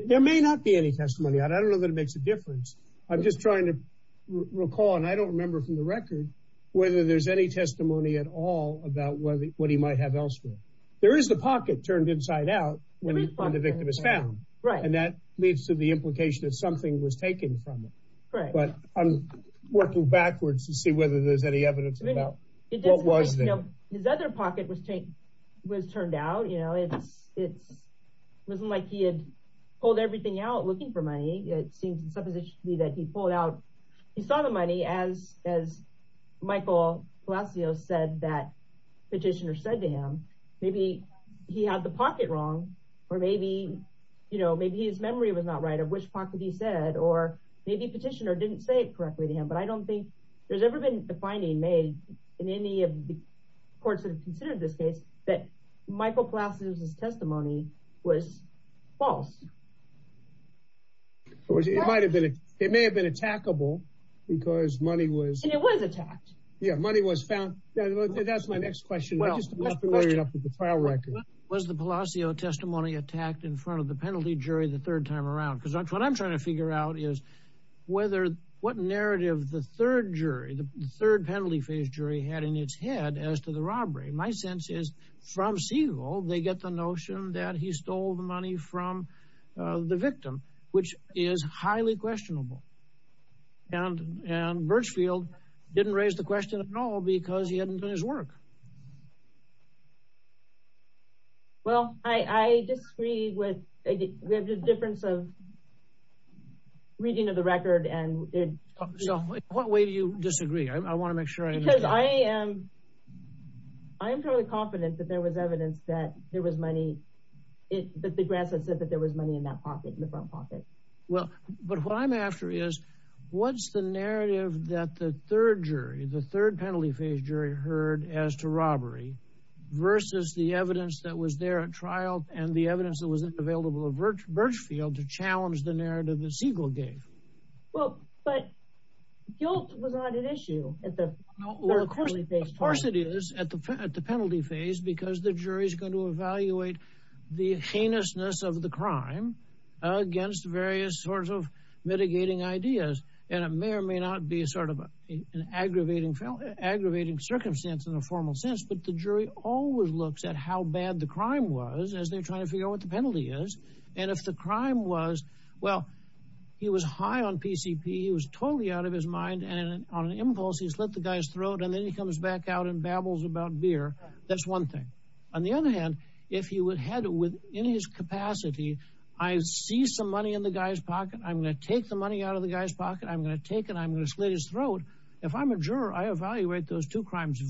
there may not be any testimony. I don't know that it makes a difference. I'm just trying to recall. And I don't remember from the record whether there's any testimony at all about what he might have elsewhere. There is the pocket turned inside out when the victim is found. Right. And that leads to the implication that something was taken from but I'm working backwards to see whether there's any evidence. His other pocket was turned out, you know, it wasn't like he had pulled everything out looking for money. It seems that he pulled out, he saw the money as Michael said that petitioner said to him, maybe he had the pocket wrong or maybe, you know, maybe his memory was not right of which pocket he said or maybe petitioner didn't say it correctly to him. But I don't think there's ever been the finding made in any of the courts that have considered this case that Michael Plass's testimony was false. It might have been, it may have been attackable because money was attacked. Yeah, money was found. That's my next question. Was the Palacio testimony attacked in front of the jury? Well, I disagree with the difference of reading of the record. And in what way do you disagree? I want to make sure I am. I am totally confident that there was evidence that there was money. It's that there was money in that pocket, in the front pocket. Well, but what I'm after is what's the narrative that the third jury, the third penalty phase jury heard as to robbery versus the evidence that was there and the evidence that was available to challenge the narrative that Siegel gave. Well, but guilt was not an issue at the penalty phase. Of course it is at the penalty phase because the jury is going to evaluate the heinousness of the crime against various sorts of mitigating ideas. And it may or may not be sort of an aggravating circumstance in a formal sense, but the jury always looks at how bad the crime was as they're trying to figure out what the penalty is. And if the crime was, well, he was high on PCP. He was totally out of his mind and on impulse, he slit the guy's throat. And then he comes back out and babbles about beer. That's one thing. On the other hand, if he would had within his capacity, I see some money in the guy's pocket. I'm going to take the money out of the guy's pocket. I'm going to take it. I'm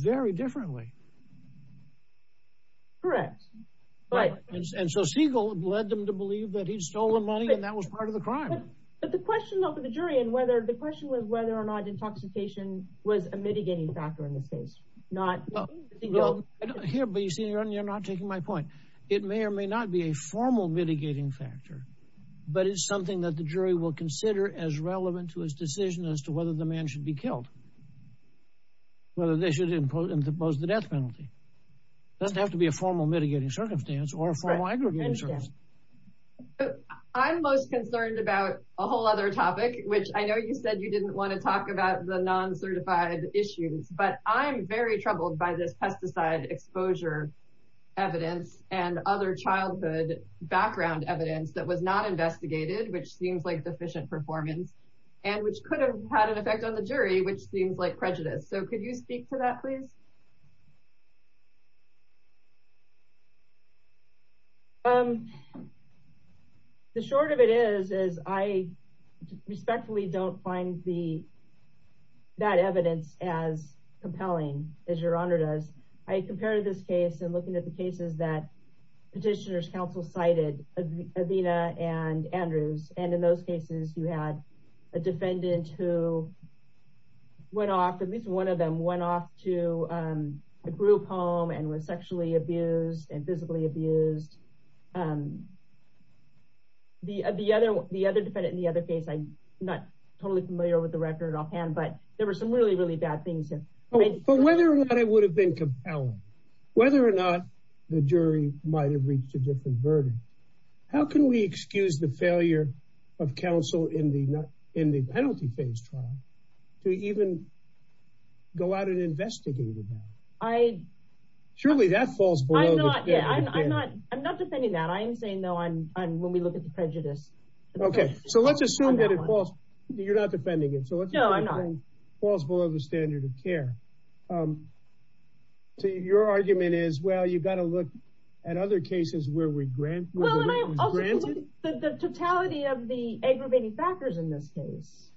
very differently. Correct. Right. And so Siegel led them to believe that he stole the money and that was part of the crime. But the question of the jury and whether the question was whether or not intoxication was a mitigating factor in this case, not here, but you see, you're not taking my point. It may or may not be a formal mitigating factor, but it's something that the jury will suppose the death penalty. It doesn't have to be a formal mitigating circumstance. I'm most concerned about a whole other topic, which I know you said you didn't want to talk about the non-certified issues, but I'm very troubled by this pesticide exposure evidence and other childhood background evidence that was not investigated, which seems like deficient performance and which could have had an effect on the jury, which seems like prejudice. So could you speak to that please? The short of it is, is I respectfully don't find the, that evidence as compelling as your honor does. I compared this case and looking at the cases that petitioners counsel cited Athena and Andrew. And in those cases, you had a defendant who went off, at least one of them went off to a group home and was sexually abused and physically abused. The other, the other defendant in the other case, I'm not totally familiar with the record offhand, but there were some really, really bad things. But whether or not it would have been compelling, whether or the jury might've reached a different verdict, how can we excuse the failure of counsel in the, in the penalty phase trial to even go out and investigate it? I surely that falls below. I'm not defending that. I'm saying, no, I'm, I'm, when we look at the prejudice. Okay. So let's assume that it falls. You're not defending it falls below the standard of care. So your argument is, well, you've got to look at other cases where we grant the totality of the aggravating factors in this case,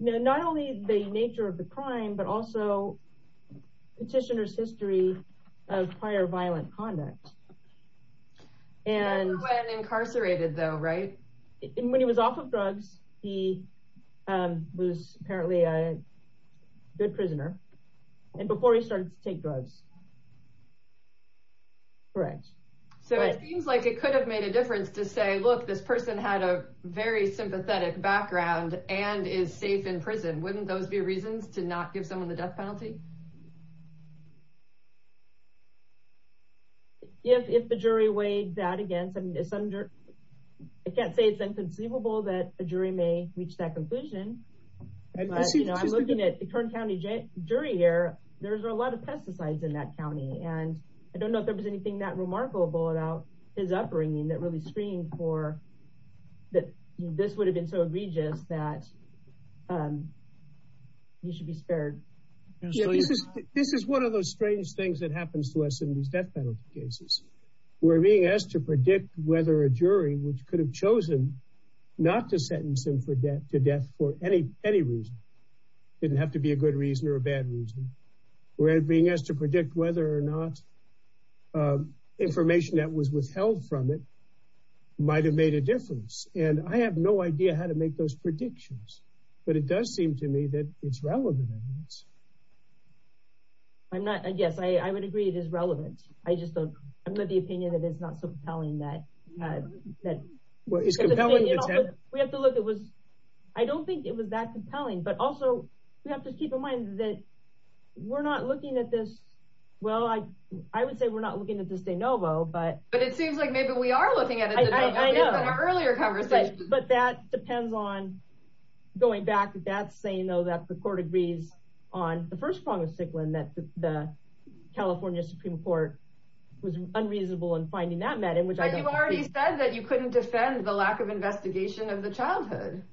not only the nature of the crime, but also petitioner's history of prior violent conduct and incarcerated though. Right. And when he was off of drugs, he was apparently a good prisoner. And before he started to take drugs. Correct. So it seems like it could have made a difference to say, look, this person had a very sympathetic background and is safe in prison. Wouldn't those be reasons to not give him the death penalty? If, if the jury weighed that again, it's under, I can't say it's inconceivable that the jury may reach that conclusion. I'm looking at the current county jury here. There's a lot of pesticides in that County. And I don't know if there was anything that remarkable about his upbringing that really screened for that. This would have been so that you should be spared. This is one of those strange things that happens to us in these death penalty cases. We're being asked to predict whether a jury, which could have chosen not to sentence them for debt to debt for any, any reason. It didn't have to be a good reason or a bad reason. We're being asked to predict whether or not information that was withheld from it might've made a difference. And I have no idea how to make those predictions, but it does seem to me that it's relevant. I'm not, I guess I would agree it is relevant. I just don't, I'm not the opinion that it's not compelling that. We have to look, it was, I don't think it was that compelling, but also we have to keep in mind that we're not looking at this. Well, I, I would say we're not looking at it, but it seems like maybe we are looking at it earlier, but that depends on going back. That's saying though, that the court agrees on the first one was sick. When that's the California Supreme court was unreasonable in finding that in which I've already said that you couldn't defend the lack of investigation of the childhood.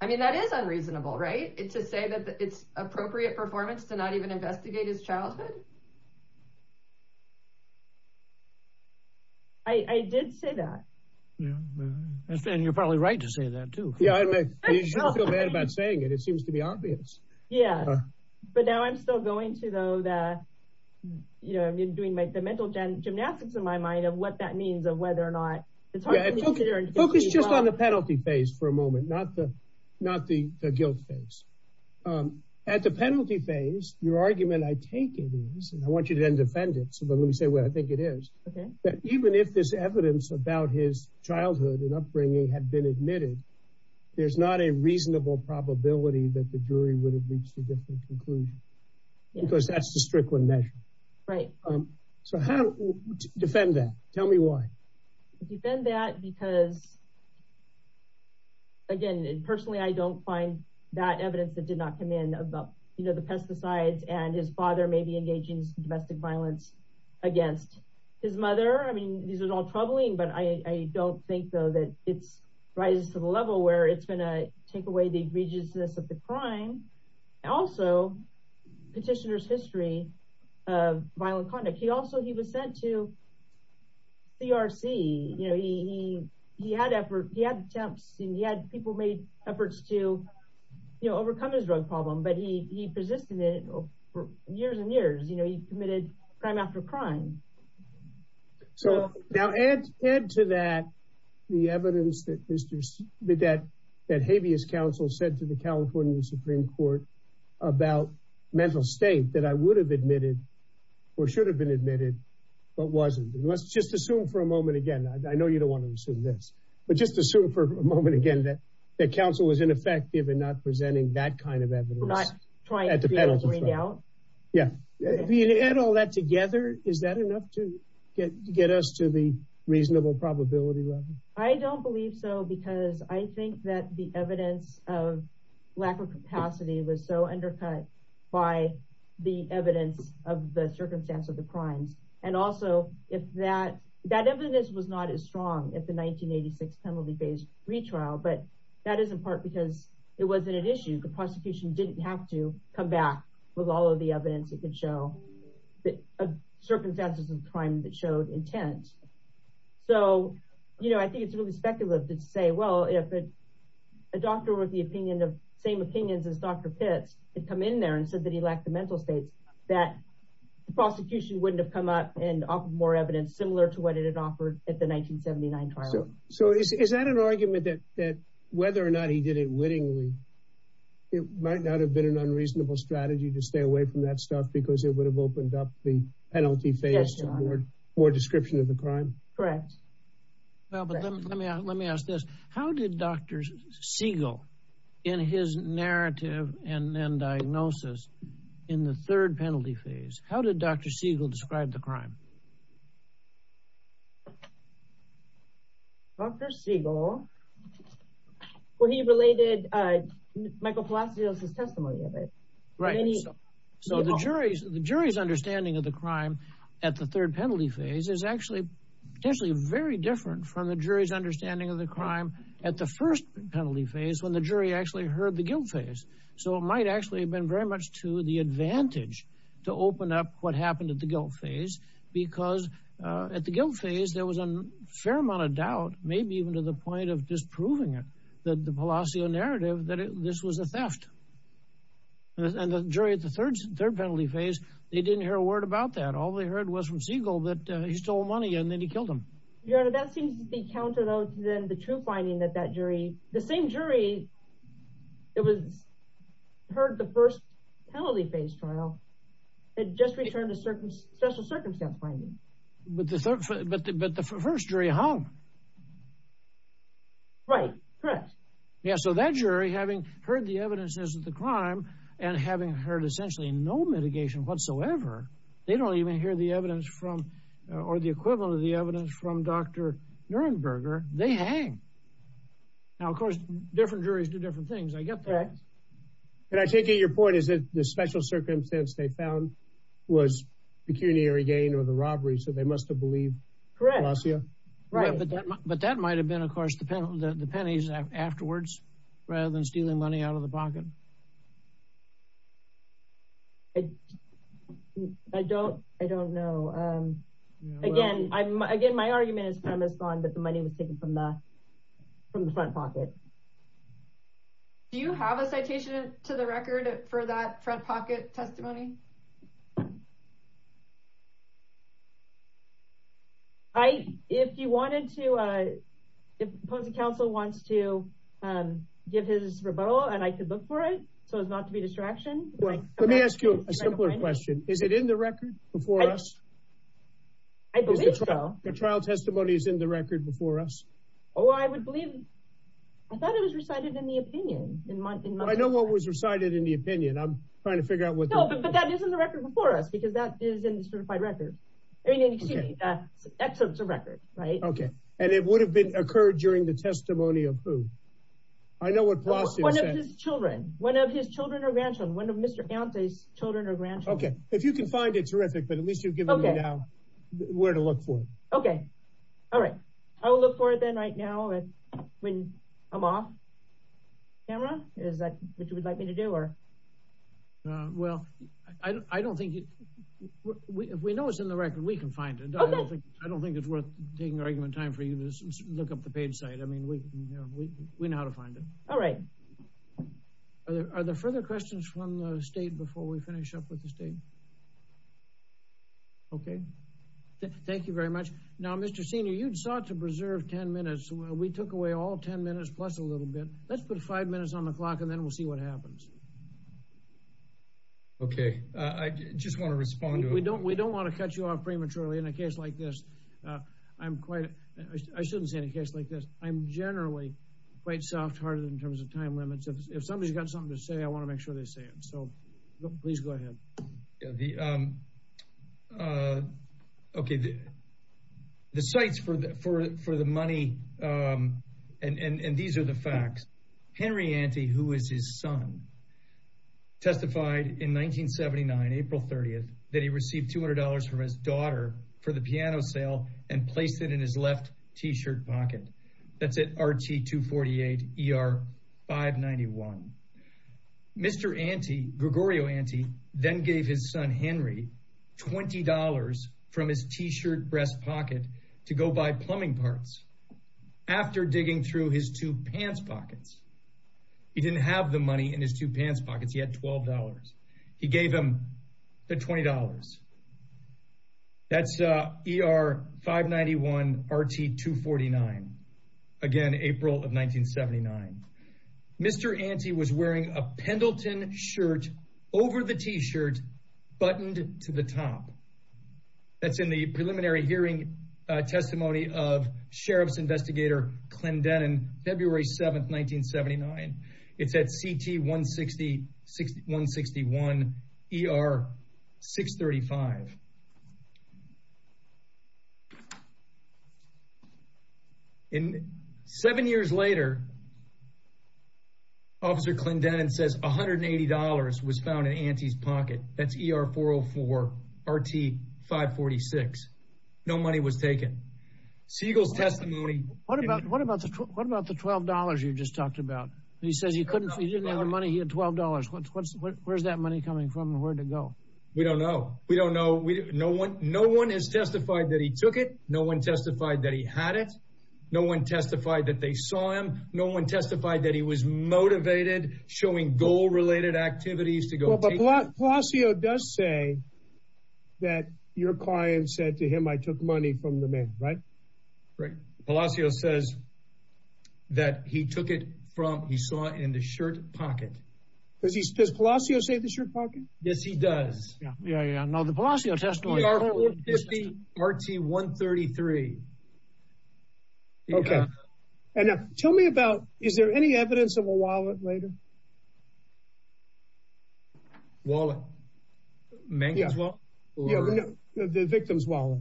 I mean, that is unreasonable, right? It's to say that it's appropriate performance to not even investigate his childhood. I, I did say that. Yeah. You're probably right to say that too. Saying it, it seems to be obvious. Yeah. But now I'm still going to though that, you know, I've been doing like the mental gymnastics in my mind of what that means of whether or not it's just on the penalty phase for a moment, not the, not the guilt phase at the penalty phase, your argument. I take it. I want you to defend it. So let me say, well, I think it is that even if this evidence about his childhood and upbringing had been admitted, there's not a reasonable probability that the jury would have reached a different conclusion because that's the Strickland measure. Right. So how do you defend that? Tell me why because again, personally, I don't find that evidence that did not come in about, you know, the pesticides and his father may be engaging in domestic violence against his mother. I mean, these are all troubling, but I don't think though that it's right to the level where it's going to take away the egregiousness of the crime. Also petitioner's history of he had efforts, he had people made efforts to, you know, overcome his drug problem, but he persisted in it for years and years, you know, he committed crime after crime. So now add to that, the evidence that Habeas council said to the California Supreme court about mental state that I would have admitted or should have been admitted, but wasn't. Let's just assume for a moment. Again, I know you don't want to assume this, but just assume for a moment again, that the council is ineffective in not presenting that kind of evidence. Yeah. And all that together, is that enough to get us to the reasonable probability level? I don't believe so because I think that the evidence of lack of capacity was so undercut by the evidence of the circumstance of the crime. And also if that, that evidence was not as strong as the 1986 penalty based retrial, but that is in part because it wasn't an issue. The prosecution didn't have to come back with all of the evidence that could show that circumstances of crime that showed intent. So, you know, I think it's really speculative to say, well, if a doctor was the opinion of same opinions as Dr. Pitt to come in there and said that he lacked the mental state that prosecution wouldn't have come up and offer more evidence similar to what it had offered at the 1979 trial. So is that an argument that, that whether or not he did it wittingly, it might not have been an unreasonable strategy to stay away from that stuff because it would have opened up the penalty phase or description of the crime. Correct. Well, let me, let me ask this. How did Dr. Siegel in his narrative and then diagnosis in the third penalty phase, how did Dr. Siegel describe the crime? Dr. Siegel, well, he related a micro philosophy of testimony of it. Right. So the jury's, the jury's understanding of the crime at the third penalty phase is actually potentially very different from the jury's understanding of the crime at the first penalty phase when the jury actually heard the guilt phase. So it might actually have been very much to the advantage to open up what happened at the guilt phase, because at the guilt phase, there was a fair amount of doubt, maybe even to the point of disproving it, that the policy or narrative that this was a theft. And the jury at the third, third penalty phase, they didn't hear a word about that. All they heard was from Siegel that he stole money and then he killed him. Your Honor, that seems to be countered other than the true finding that that jury, the same jury that was, heard the first penalty phase trial had just returned a certain, just a circumstant finding. But the third, but the first jury hung. Right. Correct. Yeah. So that jury having heard the evidence isn't the crime and having heard essentially no mitigation whatsoever, they don't even hear the evidence from, or the equivalent of the evidence from Dr. Nuremberger, they hang. Now, of course, different juries do different things. I get that. And I take it your point is that the special circumstance they found was pecuniary gain or the robbery. So they must have believed. Correct. Correct. But that might have been, of course, depending on the penalties afterwards, rather than stealing money out of the pocket. I don't, I don't know. Again, I'm again, my argument is premise on that the money was taken from the, from the front pocket. Do you have a citation to the record for that front pocket testimony? I, if you wanted to, if the council wants to give his rebuttal and I could look for it so it's not to be a distraction. Let me ask you a simpler question. Is it in the record before us? I believe so. The trial testimony is in the record before us. Oh, I would believe. I thought it was recited in the opinion. I know what was recited in the opinion. I'm trying to figure out but that isn't the record before us because that is in certified records. Excellent. It's a record, right? Okay. And it would have been occurred during the testimony of who? I know what one of his children, one of his children or grandchildren, one of Mr. Count's children or grandchildren. Okay. If you can find it terrific, but at least you've given me now where to look for it. Okay. All right. I will look for it then right now. And when I'm off camera, is that what you would like me to do or? Well, I don't think we know what's in the record. We can find it. I don't think it's worth taking argument time for you to look up the page site. I mean, we know how to find it. All right. Are there further questions from the state before we finish up with the state? Okay. Thank you very much. Now, Mr. Senior, you'd sought to preserve 10 minutes. We took away all 10 minutes plus a little bit. Let's put five minutes on the clock and then we'll see what happens. Okay. I just want to respond. We don't want to cut you off prematurely in a case like this. I shouldn't say in a case like this. I'm generally quite soft-hearted in terms of time limits. If somebody's got something to say, I want to make sure they say so. Please go ahead. Okay. The sites for the money, and these are the facts. Henry Ante, who is his son, testified in 1979, April 30th, that he received $200 from his daughter for the piano sale and placed it in his left T-shirt pocket. That's at RT-248 ER-591. Mr. Ante, Gregorio Ante, then gave his son Henry $20 from his T-shirt breast pocket to go buy plumbing parts after digging through his two pants pockets. He didn't have the money in his two pants pockets. He had $12. He gave him the $20. That's ER-591 RT-249, again, April of 1979. Mr. Ante was wearing a Pendleton shirt over the T-shirt, buttoned to the top. That's in the preliminary hearing testimony of Sheriff's Investigator Clendenin, February 7th, 1979. It's at CT-161 ER-635. Seven years later, Officer Clendenin says $180 was found in Ante's pocket. That's ER-404 RT-546. No money was taken. Siegel's testimony... What about the $12 you just talked about? He said he didn't have the money. He had $12. Where's that money coming from and where'd it go? We don't know. We don't know. No one has testified that he took it. No one testified that he had it. No one testified that they saw him. No one testified that he was motivated, showing goal-related activities to go... Palacios does say that your client said to him, I took money from the men, right? Right. Palacios says that he took it from, he saw in the shirt pocket. Does Palacios say in the shirt pocket? Yes, he does. Yeah, yeah. Now, the Palacios testimony... RT-133. Okay. Now, tell me about, is there any evidence of a wallet later? Wallet? The victim's wallet?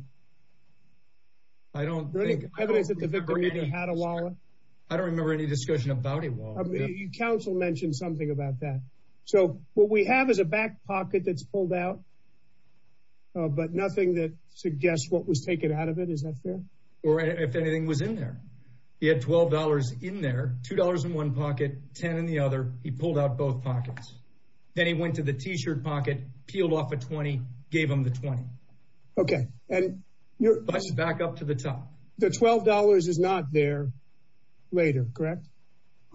I don't think. I don't remember any discussion about a wallet. Counsel mentioned something about that. So, what we have is a back pocket that's pulled out, but nothing that suggests what was taken out of it. Is that fair? Or if anything was in there. He had $12 in there, $2 in one pocket, $10 in the other. He pulled out both pockets. Then he went to the t-shirt pocket, peeled off a $20, gave him the $20. Okay. And... Back up to the top. The $12 is not there later, correct?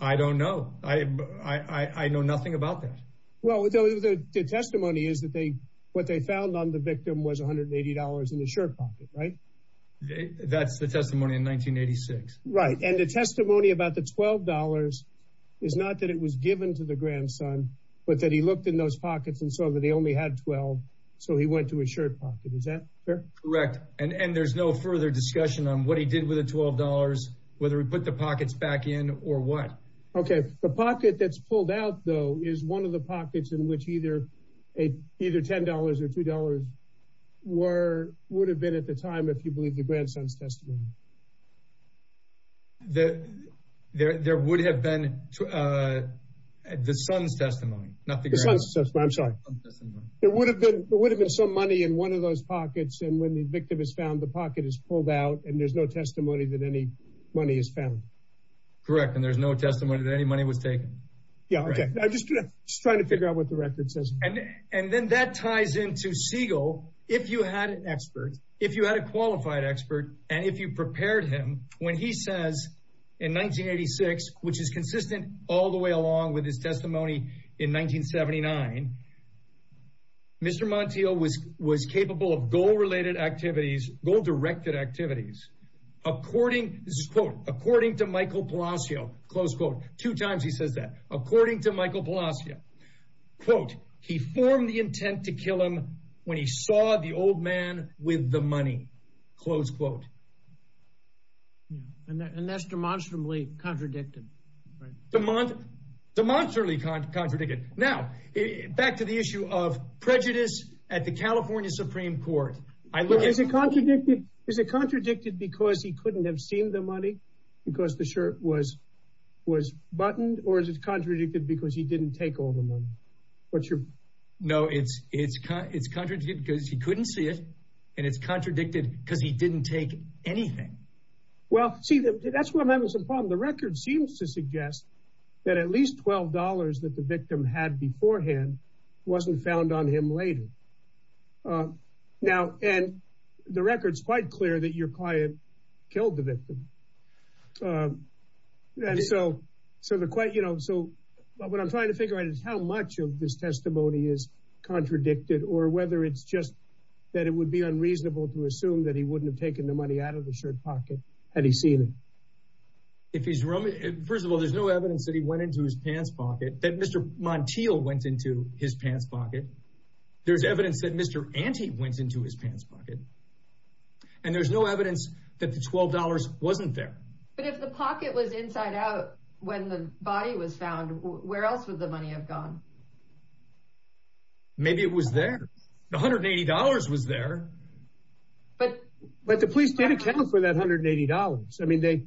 I don't know. I know nothing about that. Well, the testimony is that what they found on the victim was $180 in the shirt pocket, right? That's the testimony in 1986. Right. And the testimony about the $12 is not that it was given to the grandson, but that he looked in those pockets and saw that they only had 12. So, he went to a shirt pocket. Is that fair? Correct. And there's no further discussion on what he did with the $12, whether he put the pockets back in or what. Okay. The pocket that's pulled out, though, is one of the pockets in which either $10 or $2 that there would have been the son's testimony. The son's testimony. I'm sorry. There would have been some money in one of those pockets. And when the victim is found, the pocket is pulled out and there's no testimony that any money is found. Correct. And there's no testimony that any money was taken. Yeah. Okay. I'm just trying to figure out what the record says. And then that ties into Siegel. If you had an expert, if you had a qualified expert, and if you prepared him, when he says in 1986, which is consistent all the way along with his testimony in 1979, Mr. Montiel was capable of goal-related activities, goal-directed activities, according to Michael Palacio, close quote, two times he says that, according to Michael Palacio, he formed the intent to kill him when he saw the old man with the money, close quote. Yeah. And that's demonstrably contradicted. Demonstrably contradicted. Now, back to the issue of prejudice at the California Supreme Court. Is it contradicted because he couldn't have seen the money? Because the shirt was buttoned? Or is it contradicted because he didn't take all the money? No, it's contradicted because he couldn't see it. And it's contradicted because he didn't take anything. Well, see, that's where I'm having some problems. The record seems to suggest that at least $12 that the victim had beforehand wasn't found on him later. And the record's quite clear that your client killed the victim. So what I'm trying to figure out is how much of this testimony is contradicted or whether it's just that it would be unreasonable to assume that he wouldn't have money out of the shirt pocket had he seen it. First of all, there's no evidence that he went into his pants pocket, that Mr. Montiel went into his pants pocket. There's evidence that Mr. Ante went into his pants pocket. And there's no evidence that the $12 wasn't there. But if the pocket was inside out when the body was found, where else would the money have gone? Maybe it was there. The $180 was there. But the police didn't account for that $180. I mean, they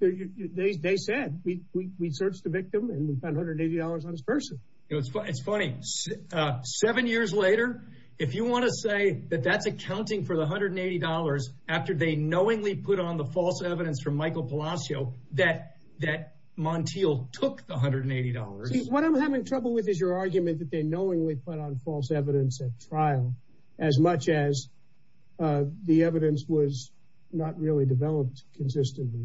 said, we searched the victim and we found $180 on his purse. It's funny, seven years later, if you want to say that that's accounting for the $180 after they knowingly put on the false evidence from Michael Palacios that Montiel took the $180. What I'm having trouble with is your argument that they knowingly put on false evidence at trial as much as the evidence was not really developed consistently.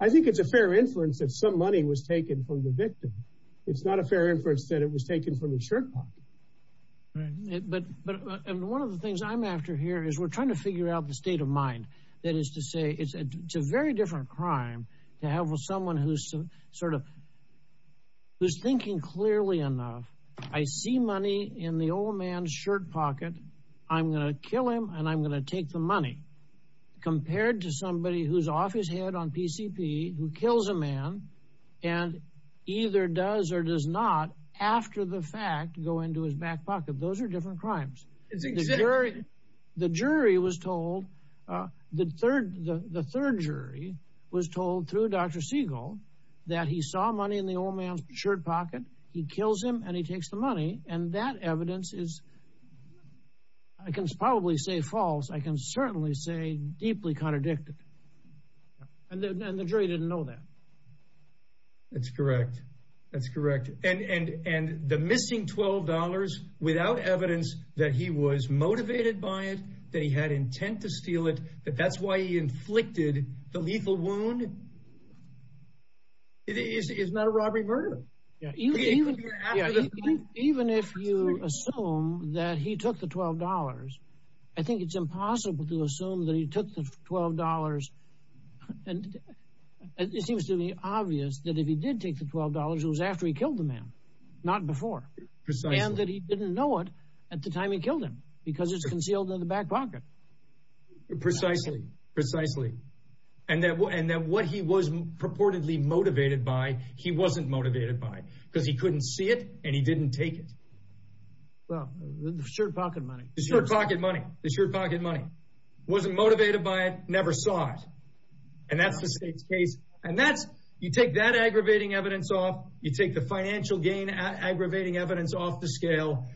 I think it's a fair inference that some money was taken from the victim. It's not a fair inference that it was taken from the shirt pocket. And one of the things I'm after here is we're trying to figure out the state of mind. That is to say, it's a very different crime to have with someone who's thinking clearly enough. I see money in the old man's shirt pocket. I'm going to kill him and I'm going to take the money compared to somebody who's off his head on PCP who kills a man and either does or does not after the fact go into his back pocket. Those are different crimes. The jury was told, the third jury was told through Dr. Siegel that he saw money in the old man's shirt pocket. He kills him and he takes the money. And that evidence is, I can probably say false. I can certainly say deeply contradicted. And the jury didn't know that. That's correct. That's correct. And the missing $12 without evidence that he was motivated by it, that he had intent to steal it, that that's why he inflicted the lethal wound. It is not a robbery murder. Even if you assume that he took the $12, I think it's impossible to assume that he took the $12. And it seems to be obvious that if he did take the $12, it was after he killed the man, not before. And that he didn't know it at the time he killed him because it's concealed in the back pocket. Precisely. Precisely. And that what he was purportedly motivated by, he wasn't motivated by. Because he couldn't see it and he didn't take it. Well, the shirt pocket money. The shirt pocket money. The shirt pocket money. Wasn't motivated by it, never saw it. And that's the state's case. And that, you take that aggravating evidence off. You take the financial gain aggravating evidence off the scale.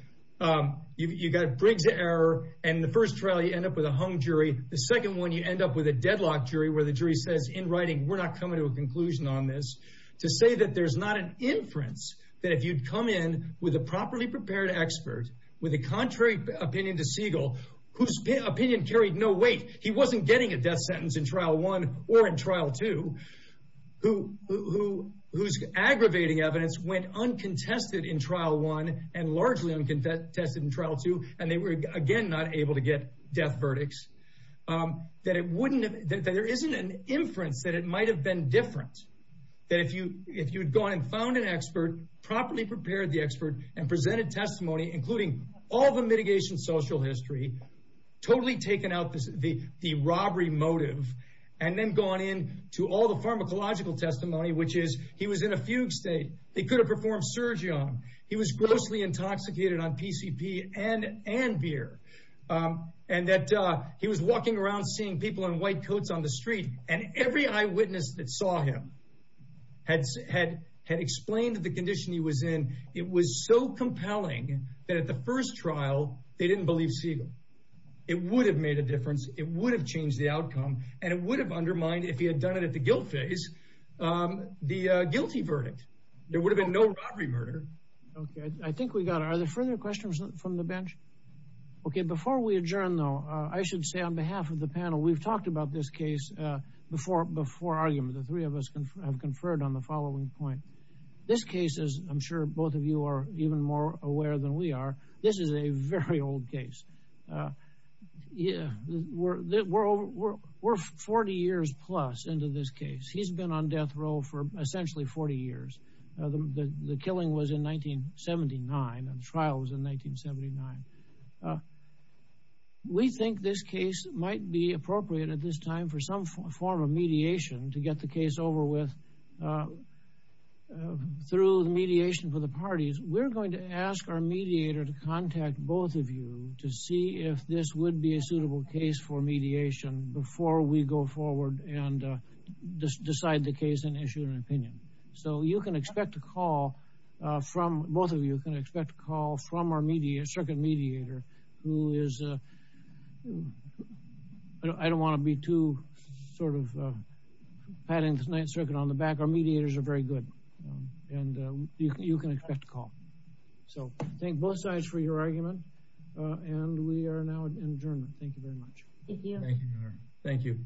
You got brig to error. And the first trial, you end up with a hung jury. The second one, you end up with a deadlock jury where the jury says, in writing, we're not coming to a conclusion on this. To say there's not an inference that if you come in with a properly prepared expert, with a contrary opinion to Siegel, whose opinion carried no weight. He wasn't getting a death sentence in trial one or in trial two. Whose aggravating evidence went uncontested in trial one and largely uncontested in trial two. And they were, again, not able to get death verdicts. That there isn't an inference that it might have been different. That if you'd gone and found an expert, properly prepared the expert and presented testimony, including all the mitigation social history, totally taken out the robbery motive, and then gone in to all the pharmacological testimony, which is he was in a fugue state. He could have performed surgery on him. He was grossly intoxicated on PCP and beer. And that he was walking around seeing people in white coats on the street. And every eyewitness that saw him had explained the condition he was in. It was so compelling that at the first trial, they didn't believe Siegel. It would have made a difference. It would have changed the outcome. And it would have undermined, if he had done it at the guilt phase, the guilty verdict. There would have been a difference. Before we adjourn, though, I should say on behalf of the panel, we've talked about this case before argument. The three of us have conferred on the following point. This case is, I'm sure both of you are even more aware than we are. This is a very old case. We're 40 years plus into this case. He's been on death row for essentially 40 years. The killing was in 1979. The trial was in 1979. We think this case might be appropriate at this time for some form of mediation to get the case over with through the mediation for the parties. We're going to ask our mediator to contact both of you to see if this would be a suitable case for mediation before we go forward and decide the case and issue an opinion. So you can expect a call from, both of you can expect a call from our mediator, circuit mediator, who is, I don't want to be too sort of patting the night circuit on the back. Our mediators are very good. And you can expect a call. So thank both sides for your argument. And we are now adjourned. Thank you very much. Thank you. Thank you.